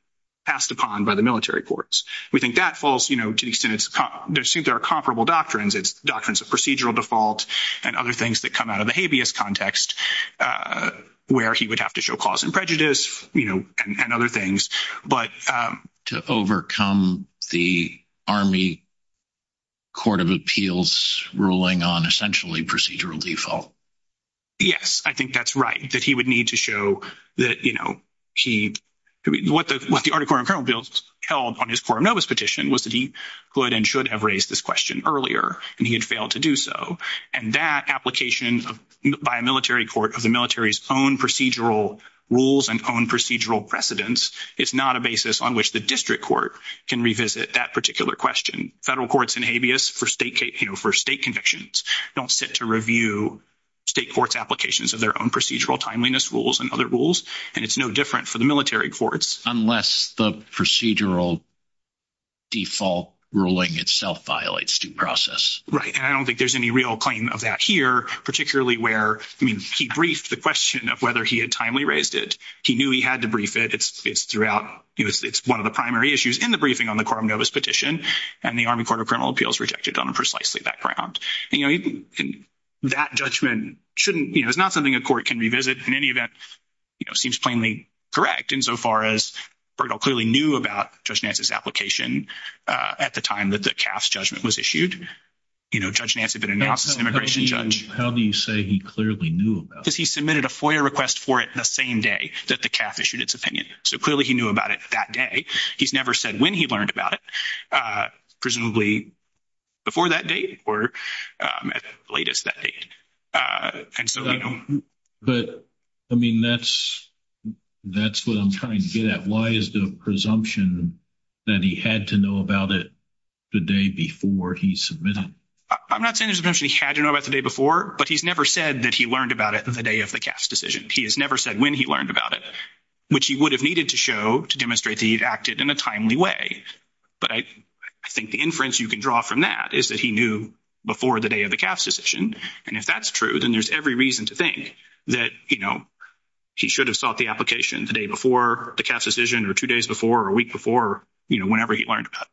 passed upon by the military courts. We think that falls, you know, to the extent there are comparable doctrines. It's doctrines of procedural default and other things that come out of the habeas context where he would have to show cause and prejudice, you know, and other things. But... ...to overcome the Army Court of Appeals ruling on essentially procedural default. Yes, I think that's right, that he would need to show that, you know, what the Army Court of Appeals held on his forum notice petition was that he could and should have raised this question earlier, and he had failed to do so. And that application by a military court of the military's own procedural rules and own procedural precedents is not a basis on which the district court can revisit that particular question. Federal courts in habeas for state, you know, for state convictions don't sit to review state court's applications of their own procedural timeliness rules and other rules, and it's no different for the military courts. ...unless the procedural default ruling itself violates due process. Right. And I don't think there's any real claim of that here, particularly where, I mean, he briefed the question of whether he had timely raised it. He knew he had to brief it. It's throughout...it's one of the primary issues in the briefing on the quorum notice petition, and the Army Court of Criminal Appeals rejected on precisely that ground. You know, even that judgment shouldn't, you know, it's not something a court can revisit. In any event, you know, it seems plainly correct insofar as Bernal clearly knew about Judge Nance's application at the time that the CAF's judgment was issued. You know, Judge Nance had been announced as an immigration judge. How do you say he clearly knew about it? Because he submitted a FOIA request for it the same day that the CAF issued its opinion. So clearly he knew about it that day. He's never said when he learned about it, presumably before that date or at the latest that date. But, I mean, that's what I'm trying to get at. Why is the presumption that he had to know about it the day before he submitted it? I'm not saying there's a presumption he had to know about the day before, but he's never said that he learned about it the day of the CAF's decision. He has never said when he learned about it, which he would have needed to show to demonstrate that he had acted in a timely way. But I think the inference you can draw from that is that he knew before the day of the CAF's decision. And if that's true, then there's every reason to think that, you know, he should have sought the application the day before the CAF's decision or two days before or a week before, you know, whenever he learned about it.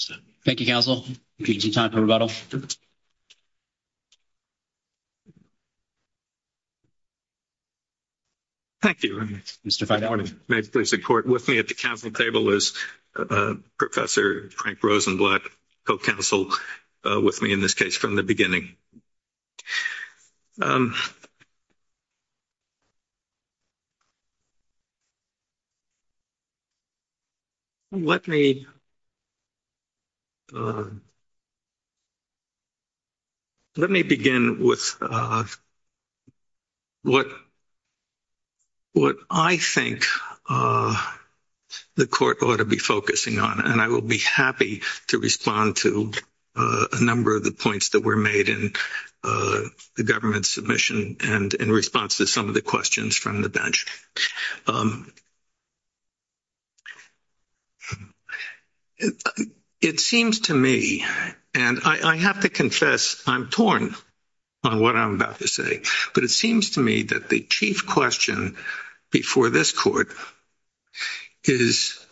So thank you, Counsel, for your time and rebuttal. Thank you, Mr. Fine. I want to make this report with me at the Council table as Professor Frank Rosenblatt co-counseled with me in this case from the beginning. And let me begin with what I think the Court ought to be focusing on, and I will be happy to respond to a number of the points that were made in the government submission and in response to some of the questions from the bench. It seems to me, and I have to confess I'm torn on what I'm about to say, but it seems to me that the chief question before this Court is,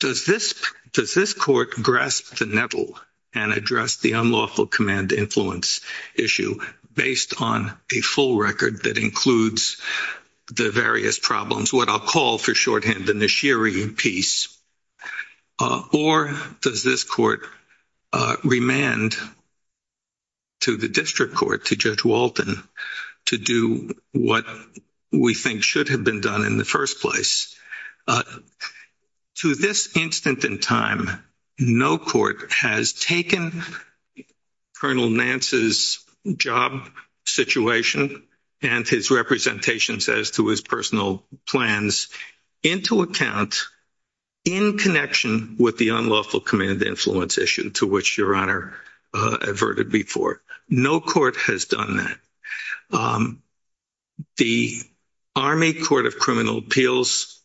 does this Court grasp the nettle and address the unlawful command-to-influence issue based on a full record that includes the various problems, what I'll call for shorthand the Nashiri piece, or does this Court remand to the District Court, to Judge Walton, to do what we think should have been done in the first place? To this instant in time, no Court has taken Colonel Nance's job situation and his representations as to his personal plans into account in connection with the unlawful command-to-influence issue to which Your Honor adverted before. No Court has done that. The Army Court of Criminal Appeals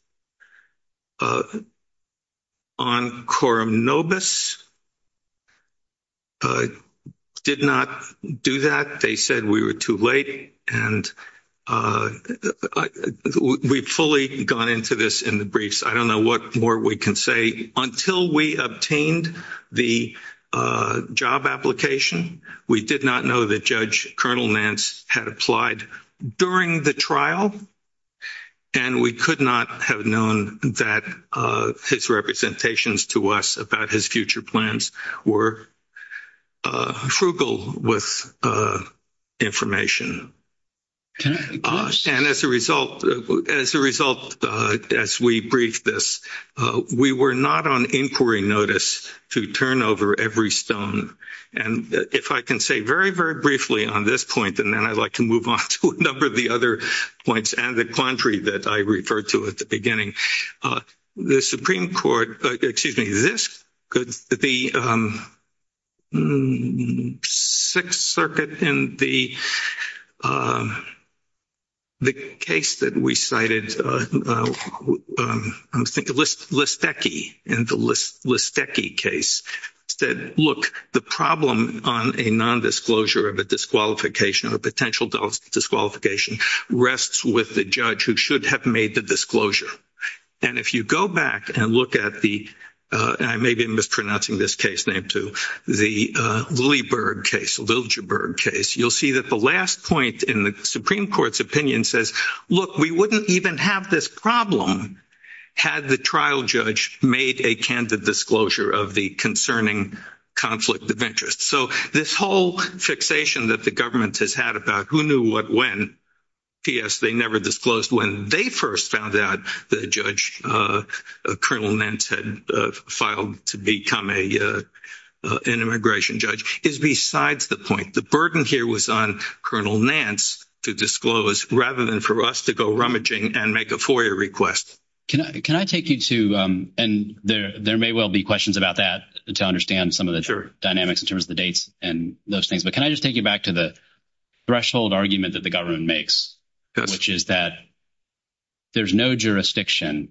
on Coram Nobis did not do that. They said we were too late, and we've fully gone into this in the briefs. I don't know what more we can say. Until we obtained the job application, we did not know that Judge Colonel Nance had applied during the trial, and we could not have known that his representations to us about his future plans were frugal with information. And as a result, as we briefed this, we were not on inquiry notice to turn over every stone. And if I can say very, very briefly on this point, and then I'd like to move on to a number of the other points and the quandary that I referred to at the beginning, the Supreme Court, the case that we cited, I'm thinking of Listecki and the Listecki case, said, look, the problem on a nondisclosure of a disqualification or potential disqualification rests with the judge who should have made the disclosure. And if you go back and look at the—and I may be mispronouncing this case name too—the Louisburg case, Liljeburg case, you'll see that the last point in the Supreme Court's opinion says, look, we wouldn't even have this problem had the trial judge made a candid disclosure of the concerning conflict of interest. So this whole fixation that the government has had about who knew what when, p.s. they never disclosed when, they first found out that Judge Colonel Nance had filed to become an immigration judge is besides the point. The burden here was on Colonel Nance to disclose rather than for us to go rummaging and make a FOIA request. Can I take you to—and there may well be questions about that to understand some of the dynamics in terms of the dates and those things. But can I just take you back to the threshold argument that the government makes, which is that there's no jurisdiction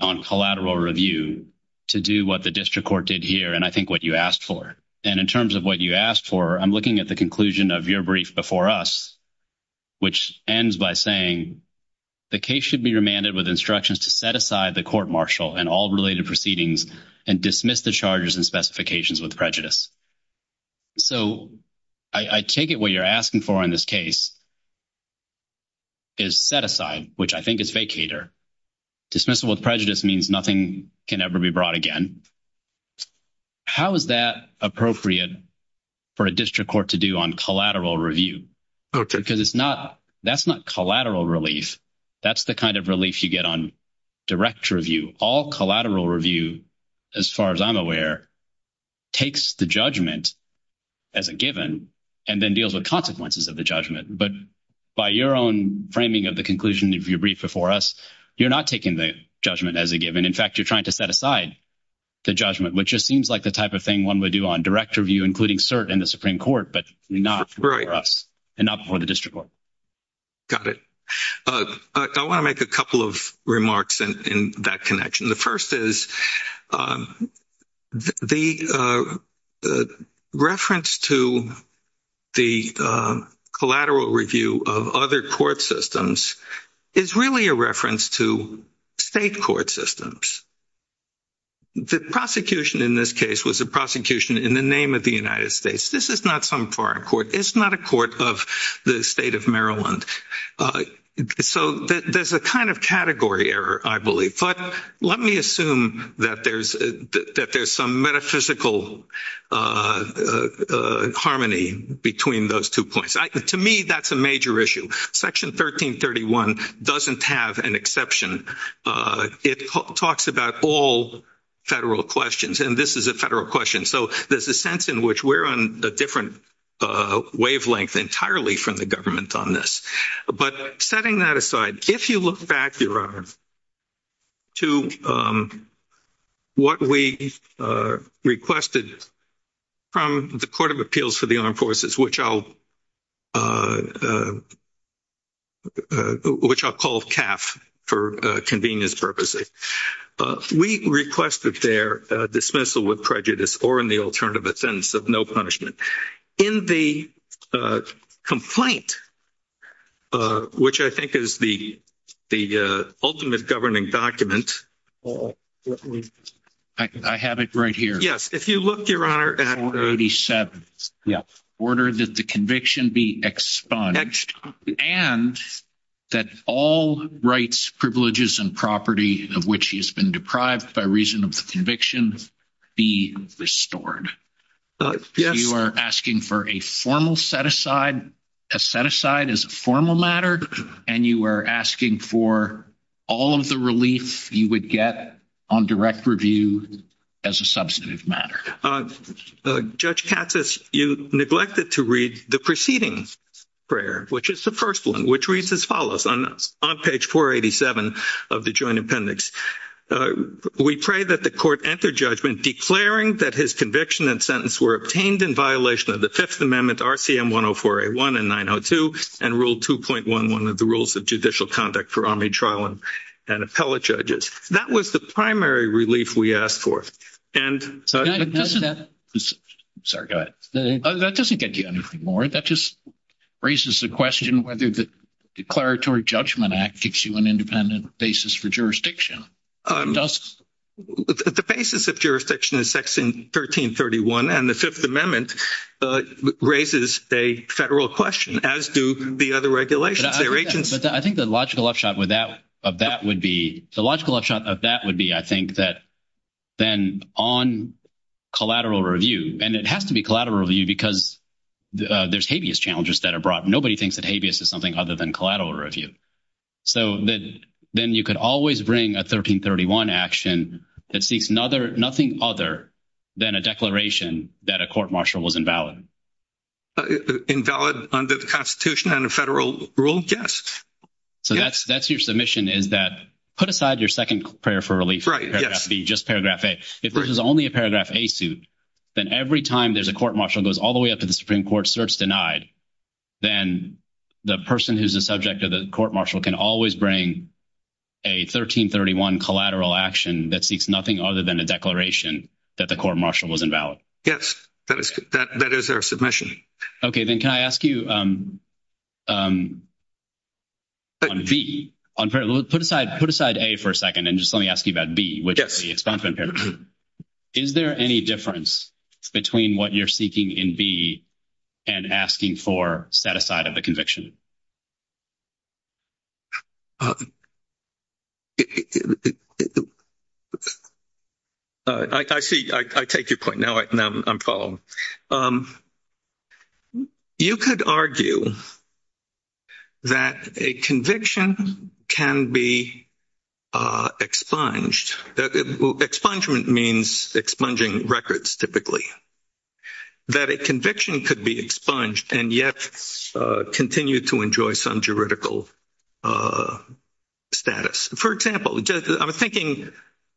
on collateral review to do what the district court did here and I think what you asked for. And in terms of what you asked for, I'm looking at the conclusion of your brief before us, which ends by saying, the case should be remanded with instructions to set aside the court-martial and all related proceedings and dismiss the charges and specifications with prejudice. So, I take it what you're asking for in this case is set aside, which I think is vacater. Dismissal with prejudice means nothing can ever be brought again. How is that appropriate for a district court to do on collateral review? Because it's not—that's not collateral relief. That's the kind of relief you get on direct review. All collateral review, as far as I'm aware, takes the judgment as a given and then deals with consequences of the judgment. But by your own framing of the conclusion of your brief before us, you're not taking the judgment as a given. In fact, you're trying to set aside the judgment, which just seems like the type of thing one would do on direct review, including cert in the Supreme Court, but not for us and not for the district court. Got it. I want to make a couple of remarks in that connection. The first is the reference to the collateral review of other court systems is really a reference to state court systems. The prosecution in this case was a prosecution in the name of the United States. This is not some foreign court. It's not a court of the state of Maryland. So there's a kind of category error, I believe. But let me assume that there's some metaphysical harmony between those two points. To me, that's a major issue. Section 1331 doesn't have an exception. It talks about all federal questions, and this is a federal question. So there's a sense in which we're on a different wavelength entirely from the government on this. But setting that aside, if you look back to what we requested from the Court of Appeals for the Armed Forces, which I'll call CAF for convenience purposes, we requested their dismissal with prejudice or in the alternative, a sentence of no punishment. In the complaint, which I think is the ultimate governing document, I have it right here. Yes. If you look, Your Honor, at 187, order that the conviction be expunged and that all rights, privileges, and property of which he has been deprived by reason of the conviction be restored. Yes. You are asking for a formal set-aside. A set-aside is a formal matter, and you are asking for all of the relief you would get on direct review as a substantive matter. Judge Katsas, you neglected to read the preceding prayer, which is the first one, which reads as follows on page 487 of the Joint Appendix. We pray that the court enter judgment declaring that his conviction and sentence were obtained in violation of the Fifth Amendment, RCM 104A1 and 902, and Rule 2.11 of the Rules of Judicial Conduct for Army Trial and Appellate Judges. That was the primary relief we asked for. Sorry, go ahead. That doesn't get you anything more. That just raises the question whether the Declaratory Judgment Act gives you an independent basis for jurisdiction. The basis of jurisdiction is Section 1331, and the Fifth Amendment raises a federal question, as do the other regulations. I think the logical left shot of that would be, I think, that then on collateral review, and it has to be collateral review because there's habeas challenges that are brought. Nobody thinks that habeas is something other than collateral review. So then you could always bring a 1331 action that seeks nothing other than a declaration that a court-martial was invalid. Invalid under the Constitution and a federal rule? Yes. So that's your submission, is that put aside your second prayer for relief, just Paragraph A. If this is only a Paragraph A suit, then every time there's a court-martial that goes all the way up to the Supreme Court, search denied, then the person who's the subject of the court-martial can always bring a 1331 collateral action that seeks nothing other than a declaration that the court-martial was invalid. Yes, that is our submission. Okay. Then can I ask you on B, put aside A for a second and just let me ask you about B. Is there any difference between what you're seeking in B and asking for set aside of the court-martial? I see. I take your point. Now I'm following. You could argue that a conviction can be expunged. That expungement means expunging records, typically. That a conviction could be expunged and yet continue to enjoy some juridical status. For example, I'm thinking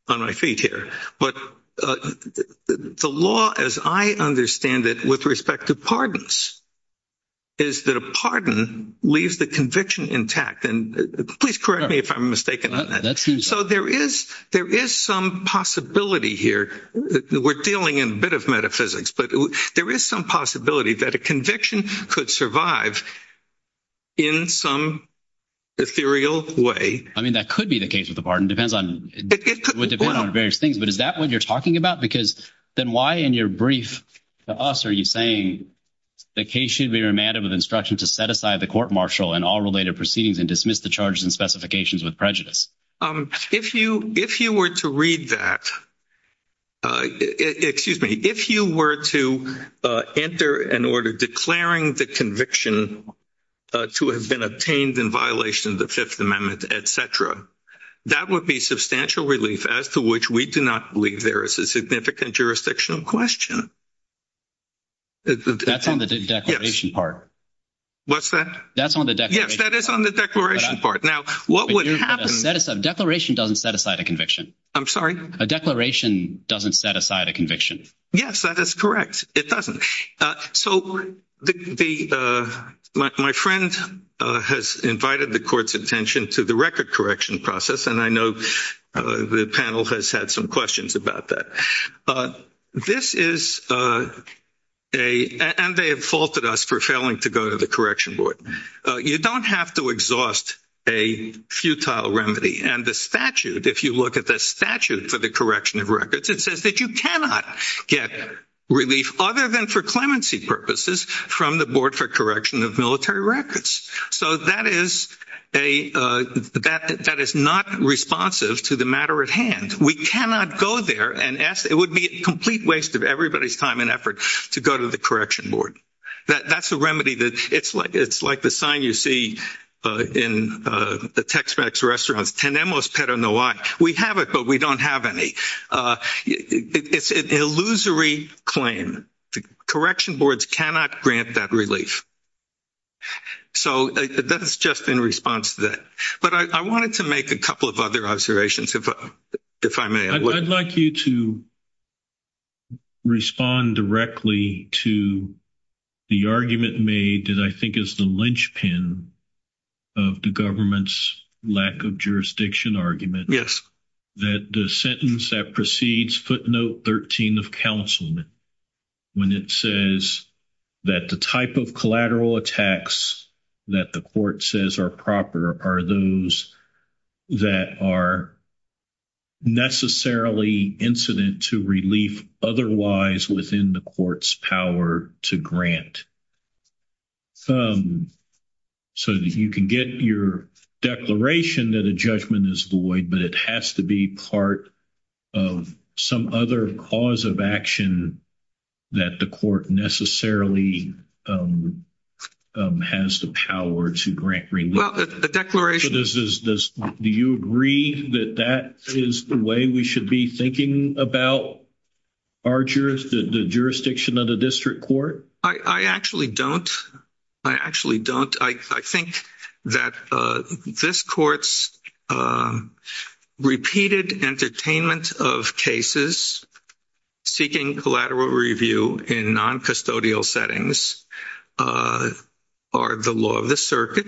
on my feet here, but the law as I understand it with respect to pardons is that a pardon leaves the conviction intact. And please correct me if I'm mistaken. So there is some possibility here. We're dealing in a bit of metaphysics, but there is some possibility that a conviction could survive in some ethereal way. I mean, that could be the case of the pardon. It depends on various things. But is that what you're talking about? Because then why in your brief to us are you saying the case should be remanded with instruction to set aside the court-martial and all related proceedings and dismiss the charges and specifications with prejudice? If you were to read that, excuse me, if you were to enter an order declaring the conviction to have been obtained in violation of the Fifth Amendment, et cetera, that would be substantial relief as to which we do not believe there is a significant jurisdictional question. That's on the declaration part. What's that? That's on the declaration part. Yes, that is on the declaration part. Now, what would happen? The declaration doesn't set aside a conviction. I'm sorry? The declaration doesn't set aside a conviction. Yes, that is correct. It doesn't. So my friend has invited the court's attention to the record correction process, and I know the panel has had some questions about that. This is a—and they have faulted us for failing to go to the correction board. You don't have to exhaust a futile remedy. And the statute, if you look at the statute for the correction of records, it says that you cannot get relief other than for clemency purposes from the Board for Correction of Military Records. So that is not responsive to the matter at hand. We cannot go there and ask—it would be a complete waste of everybody's time and effort to go to the correction board. That's a remedy that—it's like the sign you see in the Tex-Mex restaurants, tenemos pero no hay. We have it, but we don't have any. It's an illusory claim. Correction boards cannot grant that relief. So that's just in response to that. But I wanted to make a couple of other observations, if I may. I'd like you to respond directly to the argument made that I think is the linchpin of the government's lack of jurisdiction argument. That the sentence that precedes footnote 13 of counselment, when it says that the type of collateral attacks that the court says are proper are those that are necessarily incident to relief otherwise within the court's power to grant. So you can get your declaration that a judgment is void, but it has to be part of some other cause of action that the court necessarily has the power to grant relief. Well, the declaration— Do you agree that that is the way we should be thinking about the jurisdiction of the district court? I actually don't. I actually don't. I think that this court's repeated entertainment of cases seeking collateral review in noncustodial settings are the law of the circuit,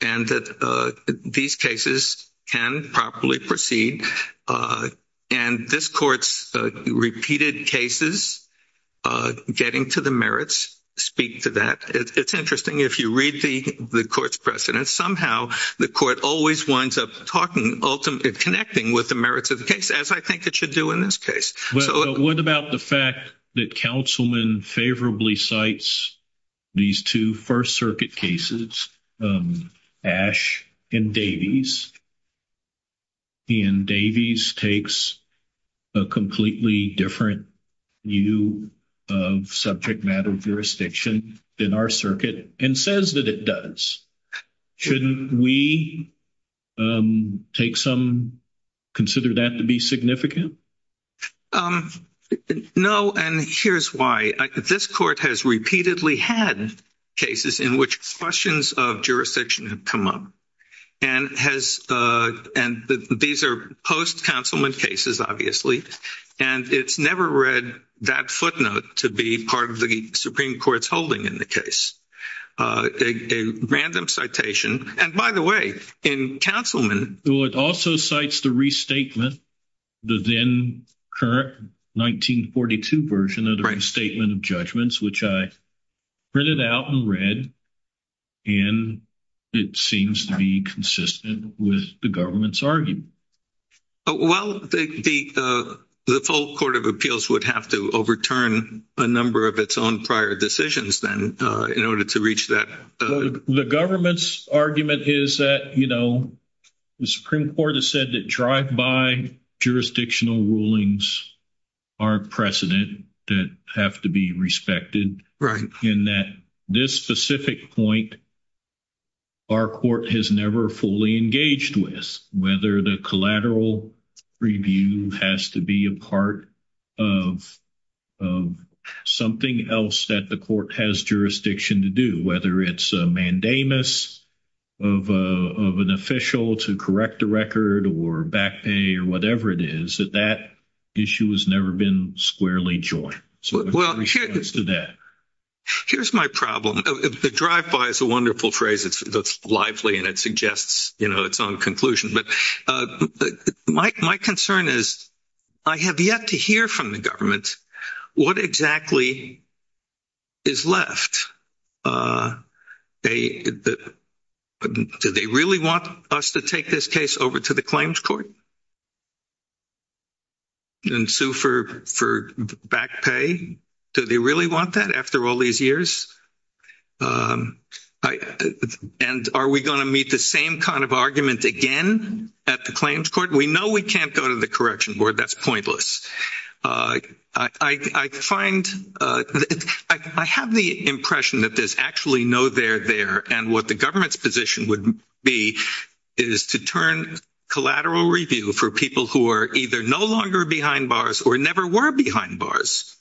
and that these cases can properly proceed. And this court's repeated cases getting to the merits speak to that. It's interesting. If you read the court's precedent, somehow the court always winds up talking ultimately connecting with the merits of the case, as I think it should do in this case. Well, what about the fact that Councilman favorably cites these two First Circuit cases, Ash and Davies? Ash and Davies takes a completely different view of subject matter jurisdiction in our circuit and says that it does. Shouldn't we take some—consider that to be significant? No, and here's why. This court has repeatedly had cases in which questions of jurisdiction have come up, and has—and these are post-Councilman cases, obviously, and it's never read that footnote to be part of the Supreme Court's holding in the case, a random citation. And by the way, in Councilman— Well, it also cites the restatement, the then-current 1942 version of the restatement judgments, which I printed out and read, and it seems to be consistent with the government's argument. Well, the full Court of Appeals would have to overturn a number of its own prior decisions then in order to reach that— The government's argument is that, you know, the Supreme Court has said that drive-by jurisdictional rulings are precedent that have to be respected, in that this specific point our court has never fully engaged with, whether the collateral review has to be a part of something else that the court has jurisdiction to do, whether it's a mandamus of an official to correct a record or back pay or whatever it is, that that issue has never been squarely joined. Here's my problem. The drive-by is a wonderful phrase. It's lively, and it suggests, you know, its own conclusion. But my concern is I have yet to hear from the government what exactly is left. Do they really want us to take this case over to the claims court and sue for back pay? Do they really want that after all these years? And are we going to meet the same kind of argument again at the claims court? We know we can't go to the correction board. That's pointless. I find—I have the impression that there's actually no there there, and what the government's position would be is to turn collateral review for people who are either no longer behind bars or never were behind bars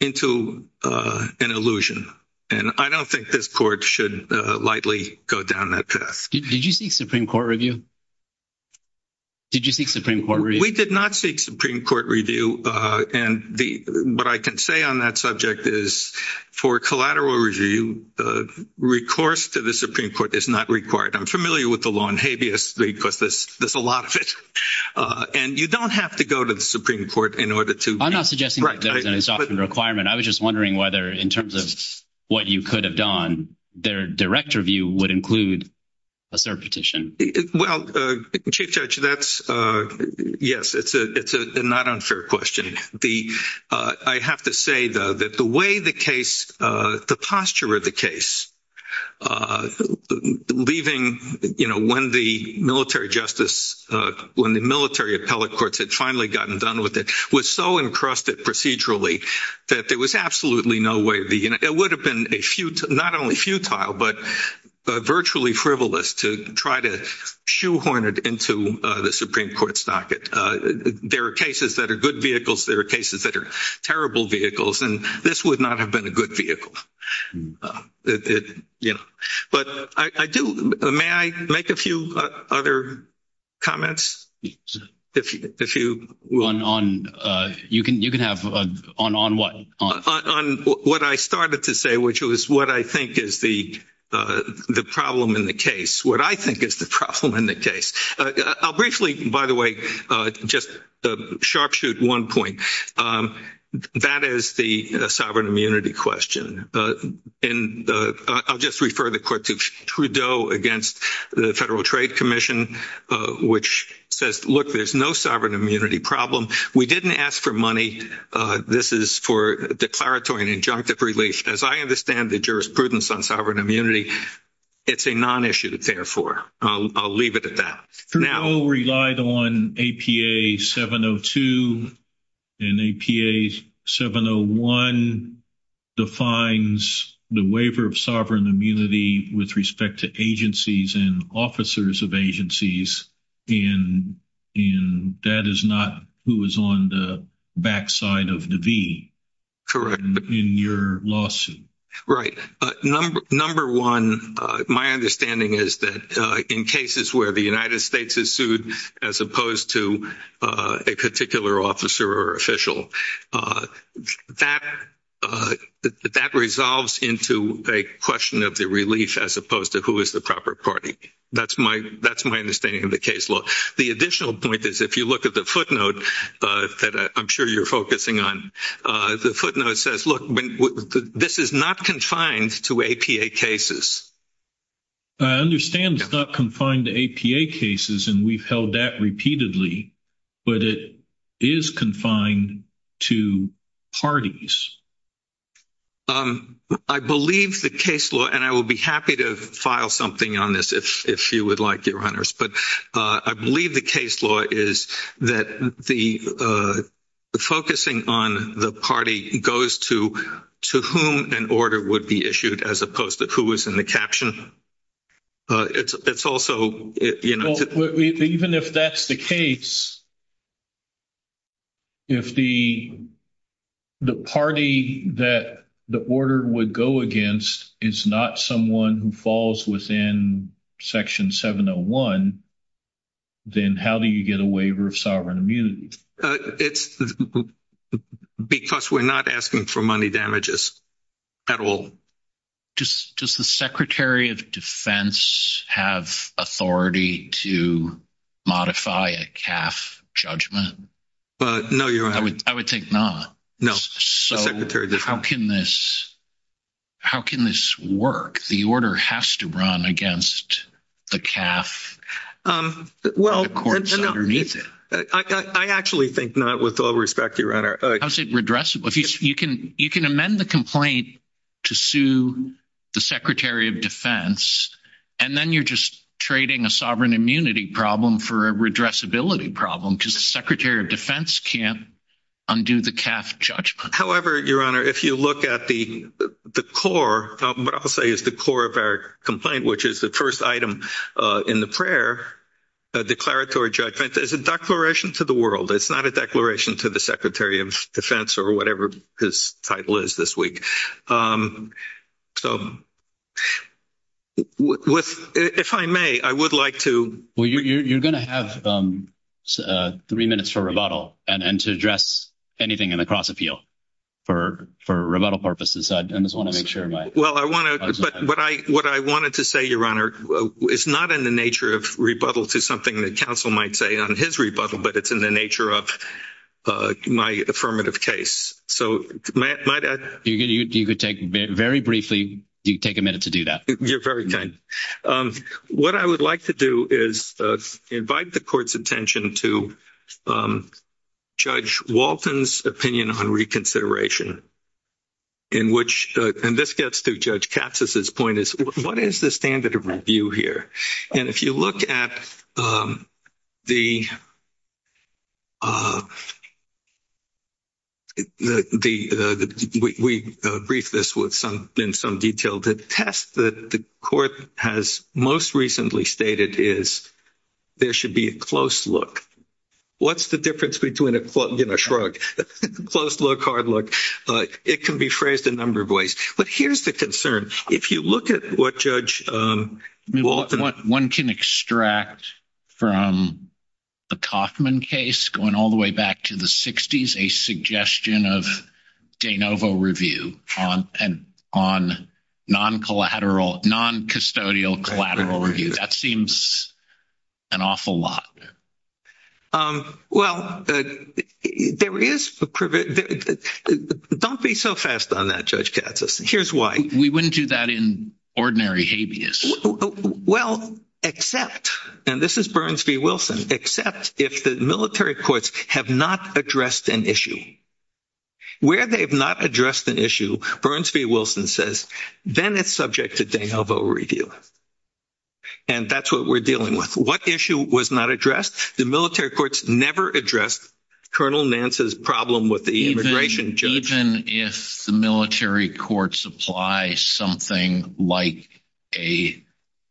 into an illusion. And I don't think this court should lightly go down that path. Did you see Supreme Court review? Did you see Supreme Court review? We did not see Supreme Court review, and the—what I can say on that subject is for collateral review, recourse to the Supreme Court is not required. I'm familiar with the law in habeas because there's a lot of it. And you don't have to go to the Supreme Court in order to— I'm not suggesting that it's not a requirement. I was just wondering whether in terms of what you could have done, their direct review would include a cert petition. Well, Chief Judge, that's—yes, it's a not unfair question. I have to say, though, that the way the case, the posture of the case, leaving, you know, when the military justice, when the military appellate courts had finally gotten done with it, was so encrusted procedurally that there was absolutely no way—it would have not only been futile, but virtually frivolous to try to shoehorn it into the Supreme Court stocket. There are cases that are good vehicles. There are cases that are terrible vehicles. And this would not have been a good vehicle. You know, but I do—may I make a few other comments? If you— You can have—on what? On what I started to say, which was what I think is the problem in the case, what I think is the problem in the case. I'll briefly, by the way, just sharpshoot one point. That is the sovereign immunity question. And I'll just refer the court to Trudeau against the Federal Trade Commission, which says, look, there's no sovereign immunity problem. We didn't ask for money. This is for declaratory and injunctive relation. As I understand the jurisprudence on sovereign immunity, it's a non-issue, therefore. I'll leave it at that. Trudeau relied on APA 702, and APA 701 defines the waiver of sovereign immunity with respect to agencies and officers of agencies, and that is not who is on the backside of the V in your lawsuit. Right. Number one, my understanding is that in cases where the United States is sued, as opposed to a particular officer or official, that resolves into a question of the relief as opposed to who is the proper party. That's my understanding of the case law. The additional point is, if you look at the footnote that I'm sure you're focusing on, the footnote says, look, this is not confined to APA cases. I understand it's not confined to APA cases, and we've held that repeatedly, but it is confined to parties. I believe the case law, and I will be happy to file something on this if you would like it, Reinhart, but I believe the case law is that the focusing on the party goes to whom an order would be issued as opposed to who is in the caption. It's also, you know... Even if that's the case, if the party that the order would go against is not someone who falls within Section 701, then how do you get a waiver of sovereign immunity? It's because we're not asking for money damages at all. Does the Secretary of Defense have authority to modify a CAF judgment? No, Your Honor. I would think not. No. How can this work? The order has to run against the CAF and the courts underneath it. I actually think not, with all respect, Your Honor. How is it redressable? You can amend the complaint to sue the Secretary of Defense, and then you're just trading a sovereign immunity problem for a redressability problem, because the Secretary of Defense can't undo the CAF judgment. However, Your Honor, if you look at the core, what I will say is the core of our complaint, which is the first item in the prayer, a declaratory judgment, is a declaration to the world. It's not a declaration to the Secretary of Defense or whatever his title is this week. So, if I may, I would like to... Well, you're going to have three minutes for rebuttal and to address anything in the cross appeal for rebuttal purposes. I just want to make sure my... Well, what I wanted to say, Your Honor, is not in the nature of rebuttal to something the counsel might say on his rebuttal, but it's in the nature of my affirmative case. So, might I... You could take, very briefly, you take a minute to do that. You're very kind. What I would like to do is invite the court's attention to Judge Walton's opinion on reconsideration, in which, and this gets to Judge Capsos's point, is what is the standard of review here? And if you look at the... We briefed this in some detail. The test that the court has most recently stated is there should be a close look. What's the difference between a close look, hard look? It can be phrased a number of ways, but here's the concern. If you look at what Judge Walton... One can extract from the Kauffman case, going all the way back to the 60s, a suggestion of de novo review on non-custodial collateral review. That seems an awful lot. Well, there is... Don't be so fast on that, Judge Capsos. Here's why. We wouldn't do that in ordinary habeas. Well, except, and this is Burns v. Wilson, except if the military courts have not addressed an issue. Where they've not addressed an issue, Burns v. Wilson says, then it's subject to de novo review. And that's what we're dealing with. What issue was not addressed? The military courts never addressed Colonel Nance's problem with the immigration judge. If the military courts apply something like a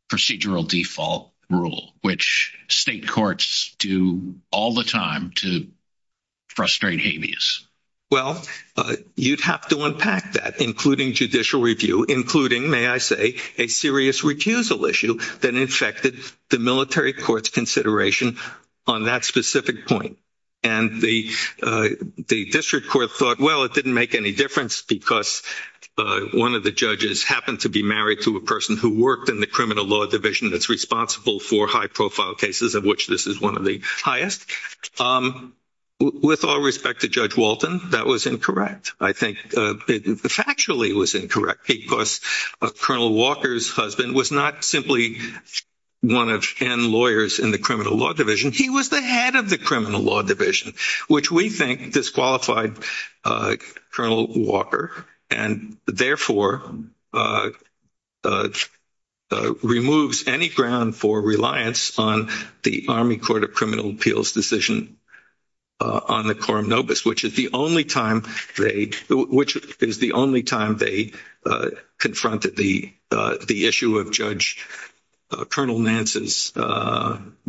procedural default rule, which state courts do all the time to frustrate habeas. Well, you'd have to unpack that, including judicial review, including, may I say, a serious recusal issue that infected the military court's consideration on that specific point. And the district court thought, well, it didn't make any difference because one of the judges happened to be married to a person who worked in the criminal law division that's responsible for high-profile cases, of which this is one of the highest. With all respect to Judge Walton, that was incorrect. I think it factually was incorrect because Colonel Walker's husband was not simply one of 10 lawyers in the criminal law division. He was the head of the criminal law division, which we think disqualified Colonel Walker and therefore removes any ground for reliance on the Army Court of Criminal Appeals decision on the Coram Nobis, which is the only time they confronted the issue of Judge Colonel Nance's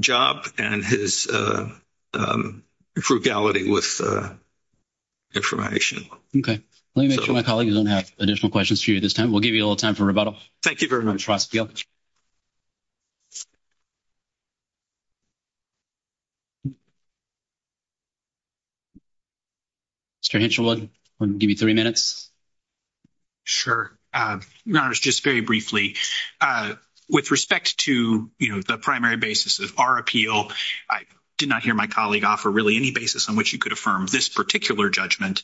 job and his frugality with information. Okay. Let me make sure my colleagues don't have additional questions for you at this time. We'll give you a little time for rebuttal. Thank you very much, Ross. You're welcome, sir. Mr. Hensherwood, we'll give you 30 minutes. Sure. Your Honor, just very briefly. With respect to, you know, the primary basis of our appeal, I did not hear my colleague offer really any basis on which you could affirm this particular judgment.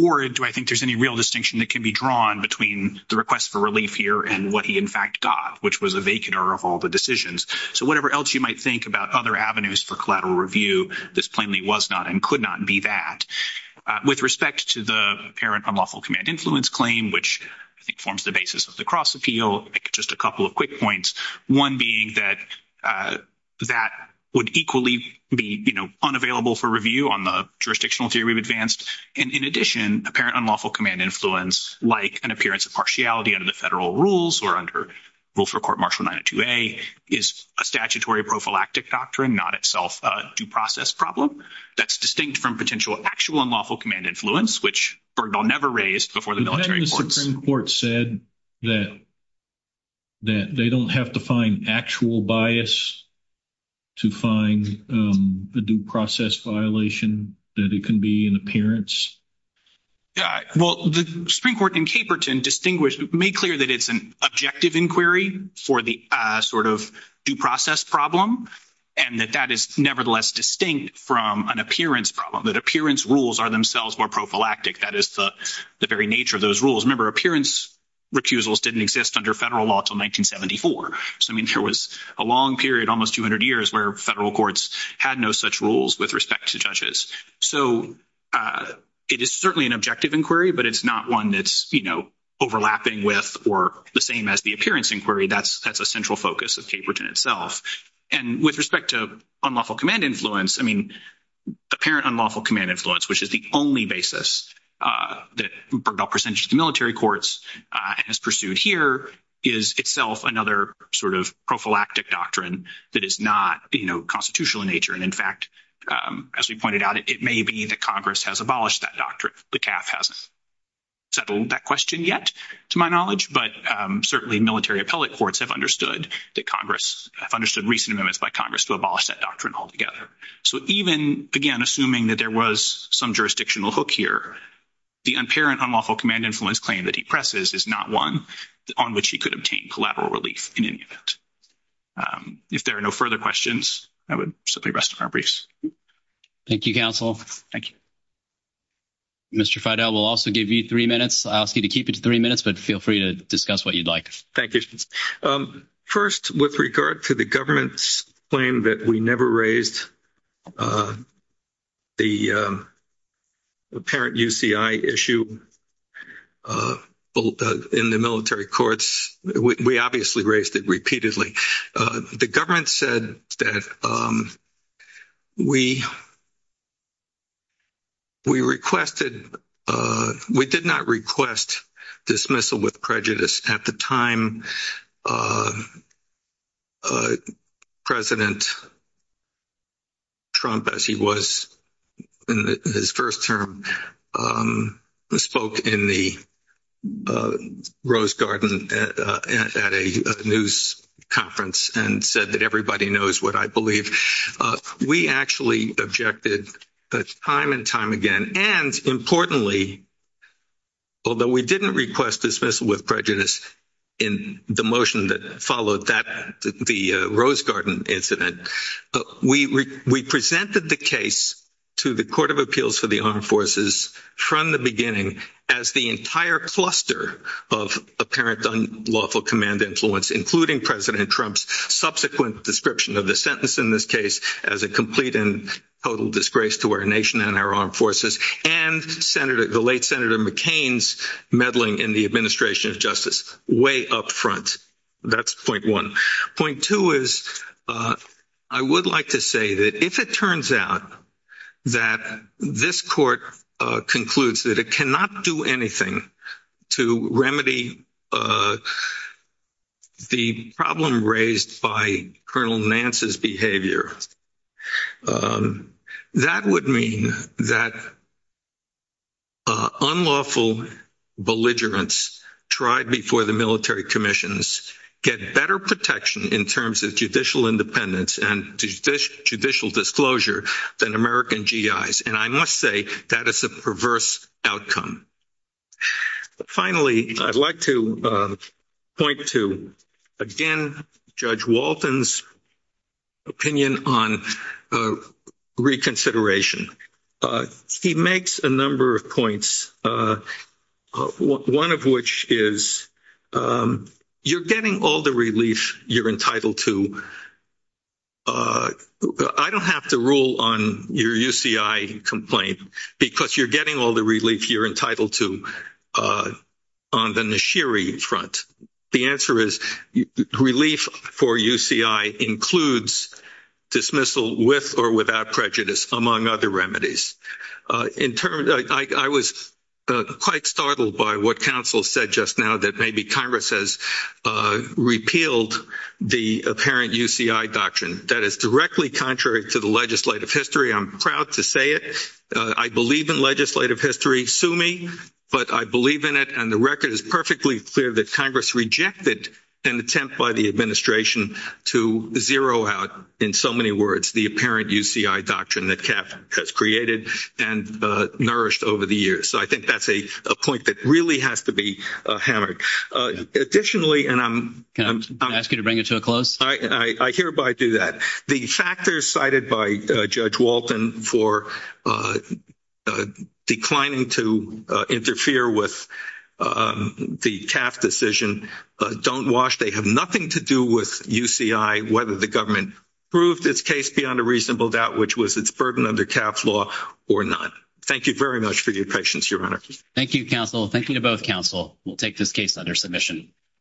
Or do I think there's any real distinction that can be drawn between the request for relief here and what he in fact got, which was a vacater of all the decisions. So whatever else you might think about other avenues for collateral review, this plainly was not and could not be that. With respect to the apparent unlawful command influence claim, which I think forms the basis of the cross appeal, just a couple of quick points. One being that that would equally be, you know, unavailable for review on the jurisdictional theory we've advanced. And in addition, apparent unlawful command influence, like an appearance of partiality under the federal rules or under Wilfred Court Martial 902A, is a statutory prophylactic doctrine, not itself a due process problem. That's distinct from potential actual unlawful command influence, which Bergdahl never raised before the military courts. And the Supreme Court said that they don't have to find actual bias to find the due process violation, that it can be an appearance. Well, the Supreme Court in Caperton distinguished, made clear that it's an objective inquiry for the sort of due process problem. And that that is nevertheless distinct from an appearance problem, that appearance rules are themselves more prophylactic. That is the very nature of those rules. Remember, appearance recusals didn't exist under federal law until 1974. So I mean, there was a long period, almost 200 years, where federal courts had no such rules with respect to judges. So it is certainly an objective inquiry, but it's not one that's, you know, overlapping with, or the same as the appearance inquiry. That's a central focus of Caperton itself. And with respect to unlawful command influence, I mean, apparent unlawful command influence, which is the only basis that Bergdahl presented to the military courts, and is pursued here, is itself another sort of prophylactic doctrine that is not, you know, constitutional in nature. And in fact, as we pointed out, it may be that Congress has abolished that doctrine. The CAF hasn't settled that question yet, to my knowledge, but certainly military appellate courts have understood that Congress, have understood recent amendments by Congress to abolish that doctrine altogether. So even, again, assuming that there was some jurisdictional hook here, the apparent unlawful command influence claim that he presses is not one on which he could obtain collaborative relief in any event. If there are no further questions, I would simply rest my briefs. Thank you, counsel. Thank you. Mr. Freidel, we'll also give you three minutes. I'll ask you to keep it to three minutes, but feel free to discuss what you'd like. Thank you. First, with regard to the government's claim that we never raised the apparent UCI issue in the military courts, we obviously raised it repeatedly. The government said that we requested, we did not request dismissal with prejudice at the time that President Trump, as he was in his first term, spoke in the Rose Garden at a news conference and said that everybody knows what I believe. We actually objected time and time again, and importantly, although we didn't request dismissal with prejudice in the motion that followed that, the Rose Garden incident, we presented the case to the Court of Appeals for the Armed Forces from the beginning as the entire cluster of apparent unlawful command influence, including President Trump's subsequent description of the sentence in this case as a complete and total disgrace to our nation and our armed forces, and the late Senator McCain's meddling in the administration of justice way up front. That's point one. Point two is I would like to say that if it turns out that this court concludes that it cannot do anything to remedy the problem raised by Colonel Nance's behavior, that would mean that unlawful belligerence tried before the military commissions get better protection in terms of judicial independence and judicial disclosure than American GIs, and I must say that is a perverse outcome. And finally, I'd like to point to, again, Judge Walton's opinion on reconsideration. He makes a number of points, one of which is you're getting all the relief you're entitled to. I don't have to rule on your UCI complaint because you're getting all the relief you're entitled to on the Nashiri front. The answer is relief for UCI includes dismissal with or without prejudice, among other remedies. I was quite startled by what counsel said just now that maybe Congress has repealed the apparent UCI doctrine. That is directly contrary to the legislative history. I'm proud to say it. I believe in legislative history. Sue me. But I believe in it, and the record is perfectly clear that Congress rejected an attempt by the administration to zero out, in so many words, the apparent UCI doctrine that CAP has created and nourished over the years. So I think that's a point that really has to be hammered. Additionally, and I'm— Can I ask you to bring it to a close? I hereby do that. The factors cited by Judge Walton for declining to interfere with the CAP decision don't wash. They have nothing to do with UCI, whether the government proved its case beyond a reasonable doubt, which was its burden under CAP's law or not. Thank you very much for your patience, Your Honor. Thank you, counsel. Thank you to both counsel. We'll take this case under submission.